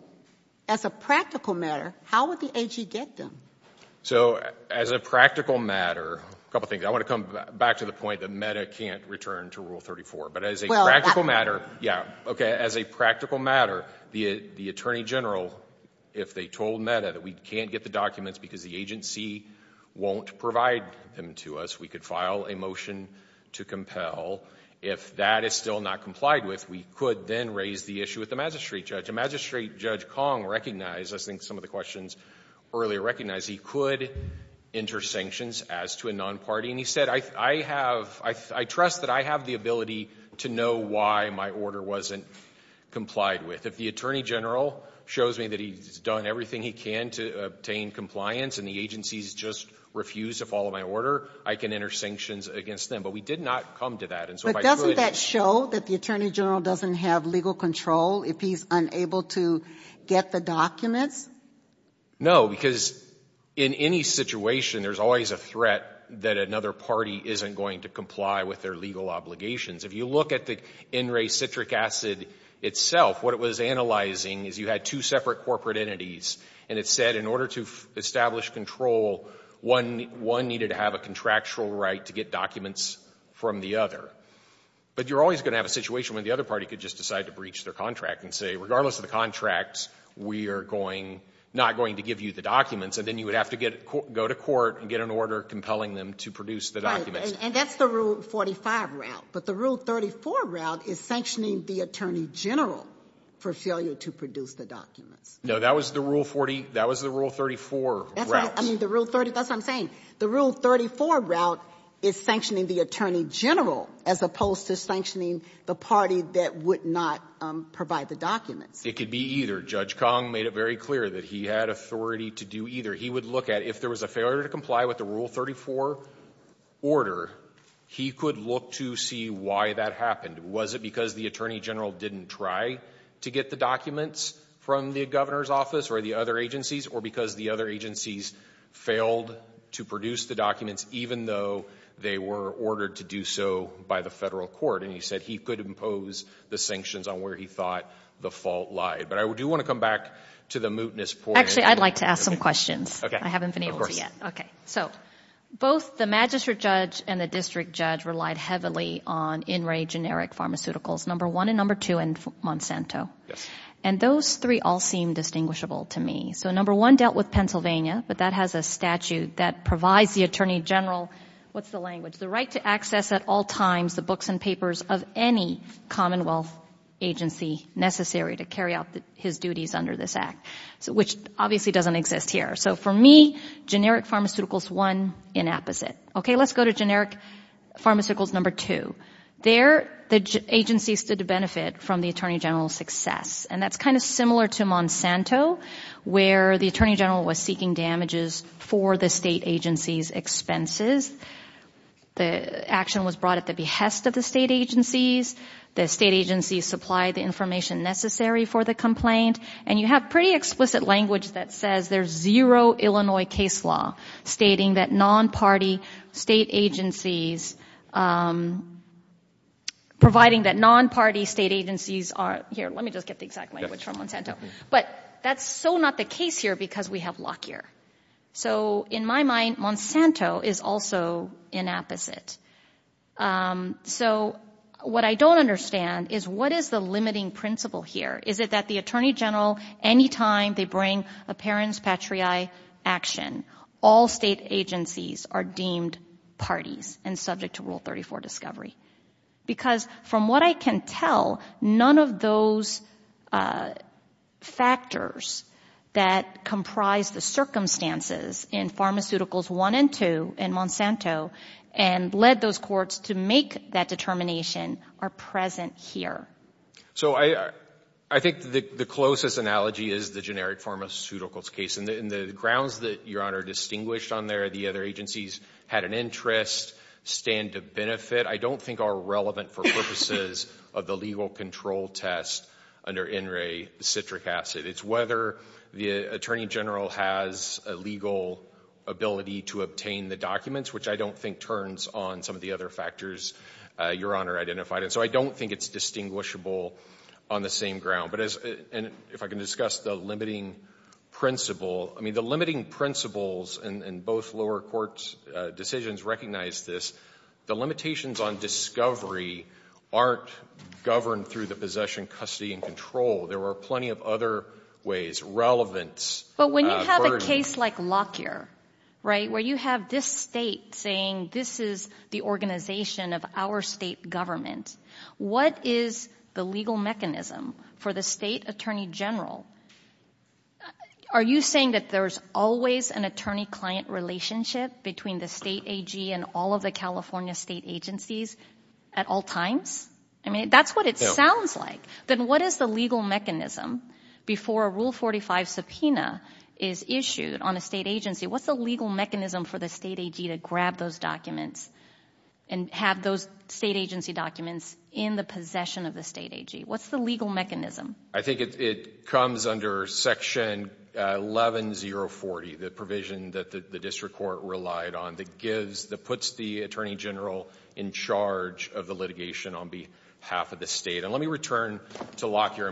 as a practical matter, how would the agency get them? So as a practical matter, a couple of things. I want to come back to the point that MEDA can't return to Rule 34. But as a practical matter, yeah, okay, as a practical matter, if they told MEDA that we can't get the documents because the agency won't provide them to us, we could file a motion to compel. If that is still not complied with, we could then raise the issue with the magistrate judge. A magistrate judge, Kong, recognized, I think some of the questions earlier recognized, he could enter sanctions as to a non-party. And he said, I have, I trust that I have the ability to know why my order wasn't complied with. If the attorney general shows me that he's done everything he can to obtain compliance and the agency's just refused to follow my order, I can enter sanctions against them. But we did not come to that. But doesn't that show that the attorney general doesn't have legal control if he's unable to get the documents? No, because in any situation, there's always a threat that another party isn't going to comply with their legal obligations. If you look at the NRA citric acid itself, what it was analyzing is you had two separate corporate entities and it said in order to establish control, one needed to have a contractual right to get documents from the other. But you're always going to have a situation where the other party could just decide to breach their contract and say, regardless of the contract, we are going, not going to give you the documents. And then you would have to get, go to court and get an order compelling them to produce the documents. And that's the rule 45 route. But the rule 34 route is sanctioning the attorney general for failure to produce the documents. No, that was the rule 40, that was the rule 34 route. I mean, the rule 30, that's what I'm saying. The rule 34 route is sanctioning the attorney general as opposed to sanctioning the party that would not provide the documents. It could be either. Judge Kong made it very clear that he had authority to do either. He would look at if there was a failure to comply with the rule 34 order, he could look to see why that happened. Was it because the attorney general didn't try to get the documents from the governor's office or the other agencies, or because the other agencies failed to produce the documents even though they were ordered to do so by the federal court? And he said he could impose the sanctions on where he thought the fault lied. But I do want to come back to the mootness point. Actually, I'd like to ask some questions. I haven't been able to yet. So both the magistrate judge and the district judge relied heavily on In Re generic pharmaceuticals, number one and number two, and Monsanto. And those three all seem distinguishable to me. So number one dealt with Pennsylvania, but that has a statute that provides the attorney general, what's the language, the right to access at all times the books and papers of any commonwealth agency necessary to carry out his duties under this act, which obviously doesn't exist here. So for me, generic pharmaceuticals, one, inapposite. Okay, let's go to generic pharmaceuticals, number two. There, the agencies stood to benefit from the attorney general's success. And that's kind of similar to Monsanto, where the attorney general was seeking damages for the state agency's expenses. The action was brought at the behest of the state agencies. The state agencies supplied the information necessary for the complaint. And you have pretty explicit language that says there's zero Illinois case law stating that non-party state agencies, providing that non-party state agencies are, here, let me just get the exact language from Monsanto. But that's so not the case here because we have Lockyer. So in my mind, Monsanto is also inapposite. So what I don't understand is what is the limiting principle here? Is it that the attorney general, any time they bring apparens patriae action, all state agencies are deemed parties and subject to Rule 34 discovery? Because from what I can tell, none of those factors that comprise the circumstances in pharmaceuticals one and two in Monsanto and led those courts to make that determination are present here. So I think the closest analogy is the generic pharmaceuticals case. And the grounds that Your Honor distinguished on there, the other agencies had an interest, stand to benefit, I don't think are relevant for purposes of the legal control test under NRA Citric Acid. It's whether the attorney general has a legal ability to obtain the documents, which I don't think turns on some of the other factors Your Honor identified. So I don't think it's distinguishable on the same ground. But if I can discuss the limiting principle, I mean, the limiting principles in both lower court decisions recognize this. The limitations on discovery aren't governed through the possession, custody, and control. There are plenty of other ways, relevance. But when you have a case like Lockyer, right, where you have this state saying this is the organization of our state government, what is the legal mechanism for the state attorney general? Are you saying that there's always an attorney-client relationship between the state AG and all of the California state agencies at all times? I mean, that's what it sounds like. Then what is the legal mechanism before a Rule 45 subpoena is issued on a state agency? What's the legal mechanism for the state AG to grab those documents and have those state agency documents in the possession of the state AG? What's the legal mechanism? I think it comes under Section 11-040, the provision that the district court relied on that gives, that puts the attorney general in charge of the litigation on behalf of the state. And let me return to Lockyer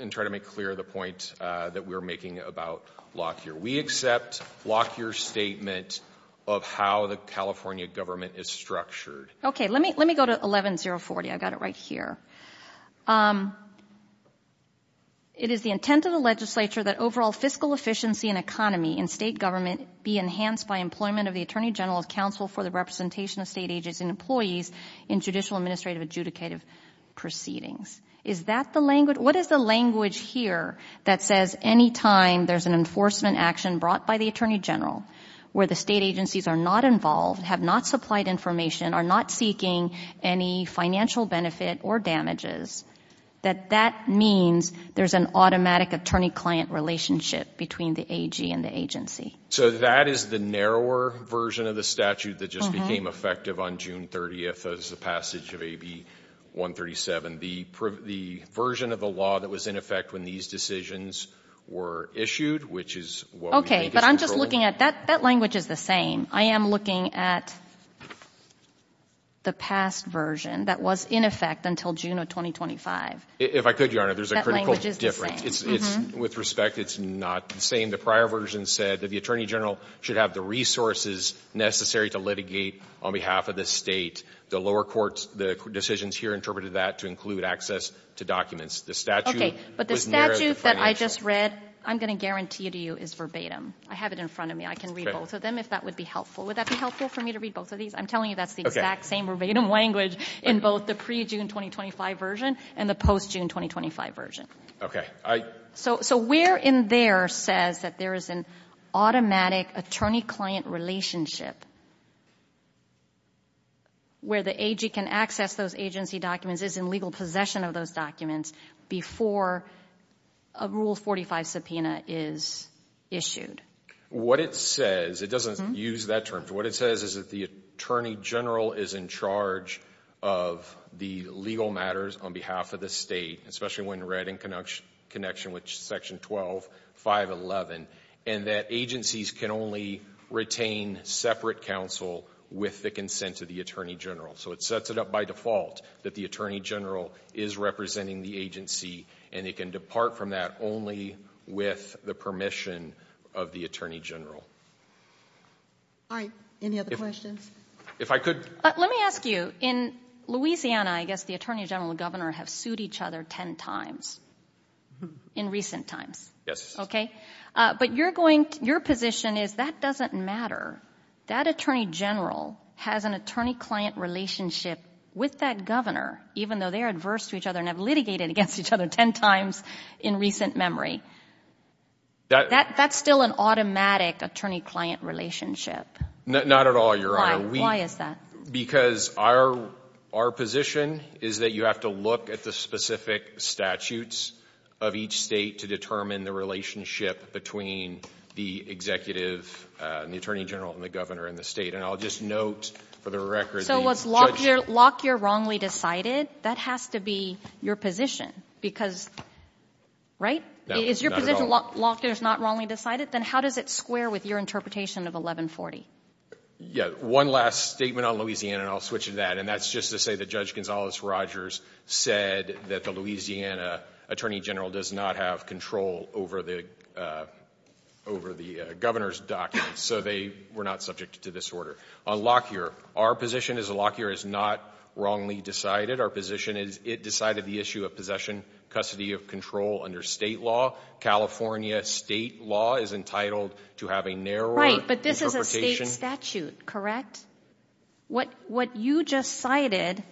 and try to make clear the point that we're making about Lockyer. We accept Lockyer's statement of how the California government is structured. Okay, let me go to 11-040. I've got it right here. It is the intent of the legislature that overall fiscal efficiency and economy in state government be enhanced by employment of the attorney general's counsel for the representation of state agents and employees in judicial, administrative, adjudicative proceedings. Is that the language? It is the language here that says any time there's an enforcement action brought by the attorney general where the state agencies are not involved, have not supplied information, are not seeking any financial benefit or damages, that that means there's an automatic attorney-client relationship between the AG and the agency. So that is the narrower version of the statute that just became effective on June 30th as the passage of AB-137. The version of the law that was in effect when these decisions were issued, which is what we think is the rule. Okay, but I'm just looking at that. That language is the same. I am looking at the past version that was in effect until June of 2025. If I could, Your Honor, there's a critical difference. That language is the same. With respect, it's not the same. The prior version said that the attorney general should have the resources necessary to litigate on behalf of the State. The lower courts, the decisions here interpreted that to include access to documents. The statute was narrowed to financial. Okay, but the statute that I just read, I'm going to guarantee to you, is verbatim. I have it in front of me. I can read both of them if that would be helpful. Would that be helpful for me to read both of these? I'm telling you that's the exact same verbatim language in both the pre-June 2025 version and the post-June 2025 version. Okay, I — So where in there says that there is an automatic attorney-client relationship where the AG can access those agency documents, is in legal possession of those documents before a Rule 45 subpoena is issued? What it says, it doesn't use that term. What it says is that the attorney general is in charge of the legal matters on behalf of the State, especially when read in connection with Section 12, 511, and that agencies can only retain separate counsel with the consent of the attorney general. So it sets it up by default that the attorney general is representing the agency and it can depart from that only with the permission of the attorney general. All right, any other questions? If I could — Let me ask you. In Louisiana, I guess the attorney general and governor have sued each other 10 times in recent times. Yes. Okay, but you're going — your position is that doesn't matter. That attorney general has an attorney-client relationship with that governor, even though they're adverse to each other and have litigated against each other 10 times in recent memory. That's still an automatic attorney-client relationship. Not at all, Your Honor. Why is that? Because our position is that you have to look at the specific statutes of each state to determine the relationship between the executive and the attorney general and the governor in the State. And I'll just note for the record — So was Lockyer wrongly decided? That has to be your position, because — right? Is your position Lockyer's not wrongly decided? Then how does it square with your interpretation of 1140? Yeah, one last statement on Louisiana, and I'll switch to that. And that's just to say that Judge Gonzales-Rogers said that the Louisiana attorney general does not have control over the governor's documents. So they were not subject to this order. On Lockyer, our position is Lockyer is not wrongly decided. Our position is it decided the issue of possession, custody of control under State law. California State law is entitled to have a narrow — Right, but this is a State statute, correct? What you just cited,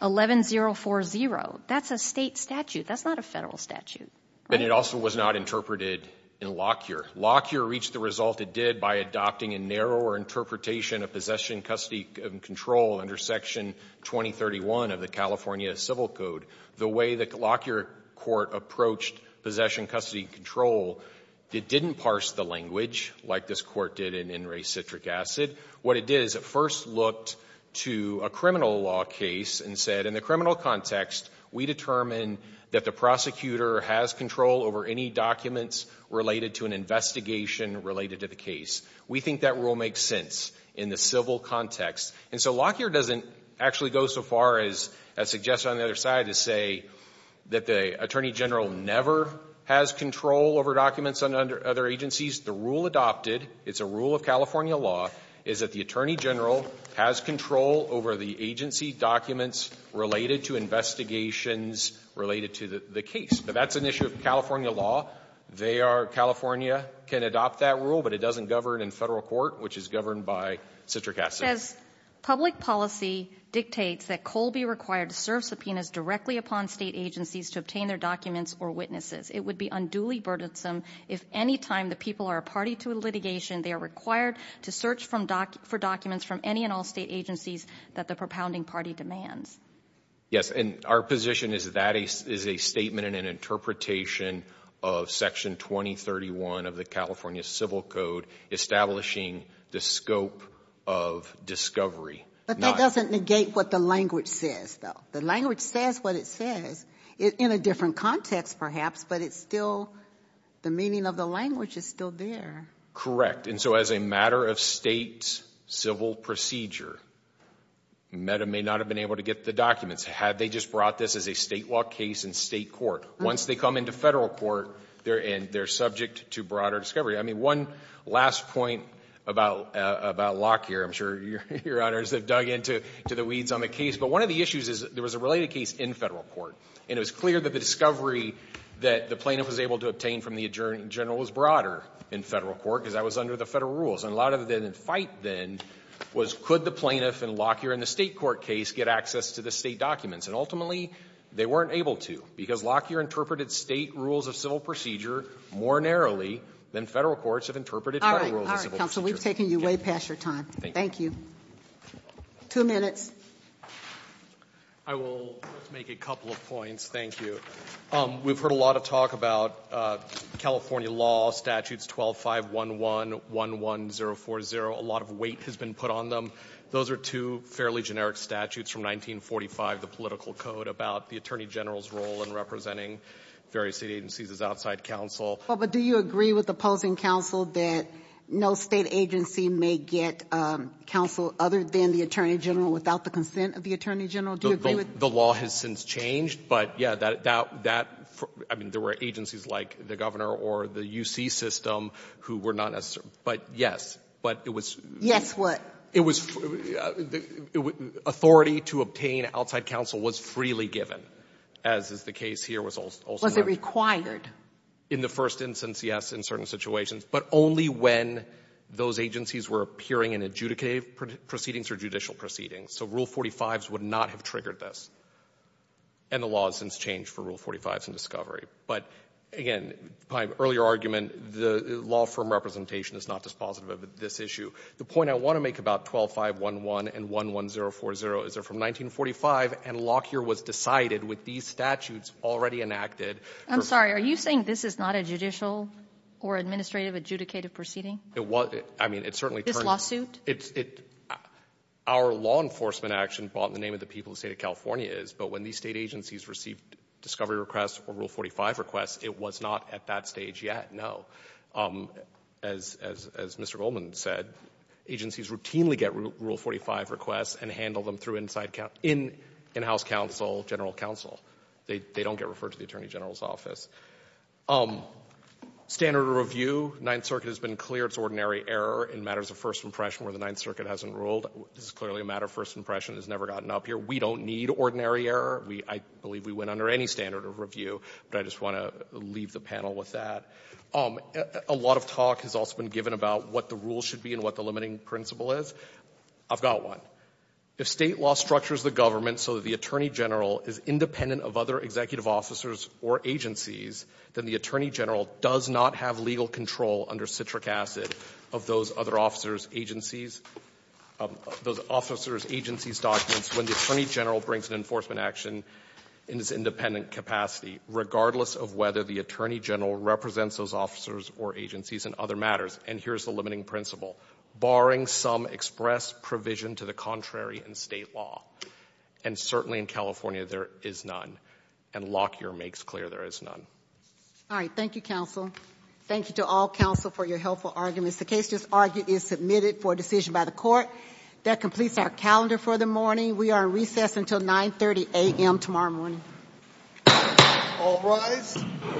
11040, that's a State statute. That's not a Federal statute, right? But it also was not interpreted in Lockyer. Lockyer reached the result it did by adopting a narrower interpretation of possession, custody, and control under Section 2031 of the California Civil Code. The way the Lockyer court approached possession, custody, and control, it didn't parse the language like this court did in Wray-Citric Acid. What it did is it first looked to a criminal law case and said, in the criminal context, we determine that the prosecutor has control over any documents related to an investigation related to the case. We think that rule makes sense in the civil context. And so Lockyer doesn't actually go so far as suggest on the other side to say that the attorney general never has control over documents under other agencies. The rule adopted, it's a rule of California law, is that the attorney general has control over the agency documents related to investigations related to the case. Now, that's an issue of California law. They are — California can adopt that rule, but it doesn't govern in Federal court, which is governed by Citric Acid. As public policy dictates, that COLE be required to serve subpoenas directly upon State agencies to obtain their documents or witnesses. It would be unduly burdensome if any time the people are a party to a litigation, they are required to search for documents from any and all State agencies that the propounding party demands. Yes, and our position is that is a statement and an interpretation of Section 2031 of the California Civil Code establishing the scope of discovery. But that doesn't negate what the language says, though. The language says what it says in a different context, perhaps, but it's still — the meaning of the language is still there. Correct. And so as a matter of State civil procedure, Meta may not have been able to get the documents had they just brought this as a State law case in State court. Once they come into Federal court, they're subject to broader discovery. I mean, one last point about Locke here. I'm sure Your Honors have dug into the weeds on the case. But one of the issues is there was a related case in Federal court, and it was clear that the discovery that the plaintiff was able to obtain from the attorney general was broader in Federal court, because that was under the Federal rules. And a lot of the fight then was could the plaintiff in Locke here in the State court case get access to the State documents? And ultimately, they weren't able to, because Locke here interpreted State rules of civil procedure more narrowly than Federal courts have interpreted Federal rules of civil procedure. All right. Counsel, we've taken you way past your time. Thank you. Two minutes. I will make a couple of points. Thank you. We've heard a lot of talk about California law statutes 12-5-1-1, 1-1-0-4-0. A lot of weight has been put on them. Those are two fairly generic statutes from 1945, the political code, about the attorney general's role in representing various State agencies as outside counsel. Well, but do you agree with opposing counsel that no State agency may get counsel other than the attorney general without the consent of the attorney general? Do you agree with that? The law has since changed. But, yeah, that — I mean, there were agencies like the governor or the U.C. system who were not necessarily — but, yes. But it was — Yes, what? It was — authority to obtain outside counsel was freely given, as is the case here was also — Was it required? In the first instance, yes, in certain situations, but only when those agencies were appearing in adjudicated proceedings or judicial proceedings. So Rule 45s would not have triggered this. And the law has since changed for Rule 45s and discovery. But, again, my earlier argument, the law firm representation is not dispositive of this issue. The point I want to make about 12-5-1-1 and 1-1-0-4-0 is they're from 1945, and Lockyer was decided with these statutes already enacted. I'm sorry. Are you saying this is not a judicial or administrative adjudicated proceeding? It was. I mean, it certainly turned — This lawsuit? It's — our law enforcement action brought in the name of the people of the State of California is, but when these State agencies received discovery requests or Rule 45 requests, it was not at that stage yet, no. As Mr. Goldman said, agencies routinely get Rule 45 requests and handle them through inside — in-house counsel, general counsel. They don't get referred to the Attorney General's office. Standard of review, Ninth Circuit has been clear it's ordinary error in matters of first impression where the Ninth Circuit hasn't ruled. This is clearly a matter of first impression. It's never gotten up here. We don't need ordinary error. We — I believe we went under any standard of review, but I just want to leave the panel with that. A lot of talk has also been given about what the rules should be and what the limiting principle is. I've got one. If State law structures the government so that the Attorney General is independent of other executive officers or agencies, then the Attorney General does not have legal control under citric acid of those other officers' agencies — those officers' agencies' documents when the Attorney General brings an enforcement action in his independent capacity, regardless of whether the Attorney General represents those officers or agencies in other matters. And here's the limiting principle. Barring some express provision to the contrary in State law, and certainly in California, there is none, and Lockyer makes clear there is none. All right. Thank you, counsel. Thank you to all counsel for your helpful arguments. The case just argued is submitted for decision by the court. That completes our calendar for the morning. We are recessed until 9.30 a.m. tomorrow morning. All rise.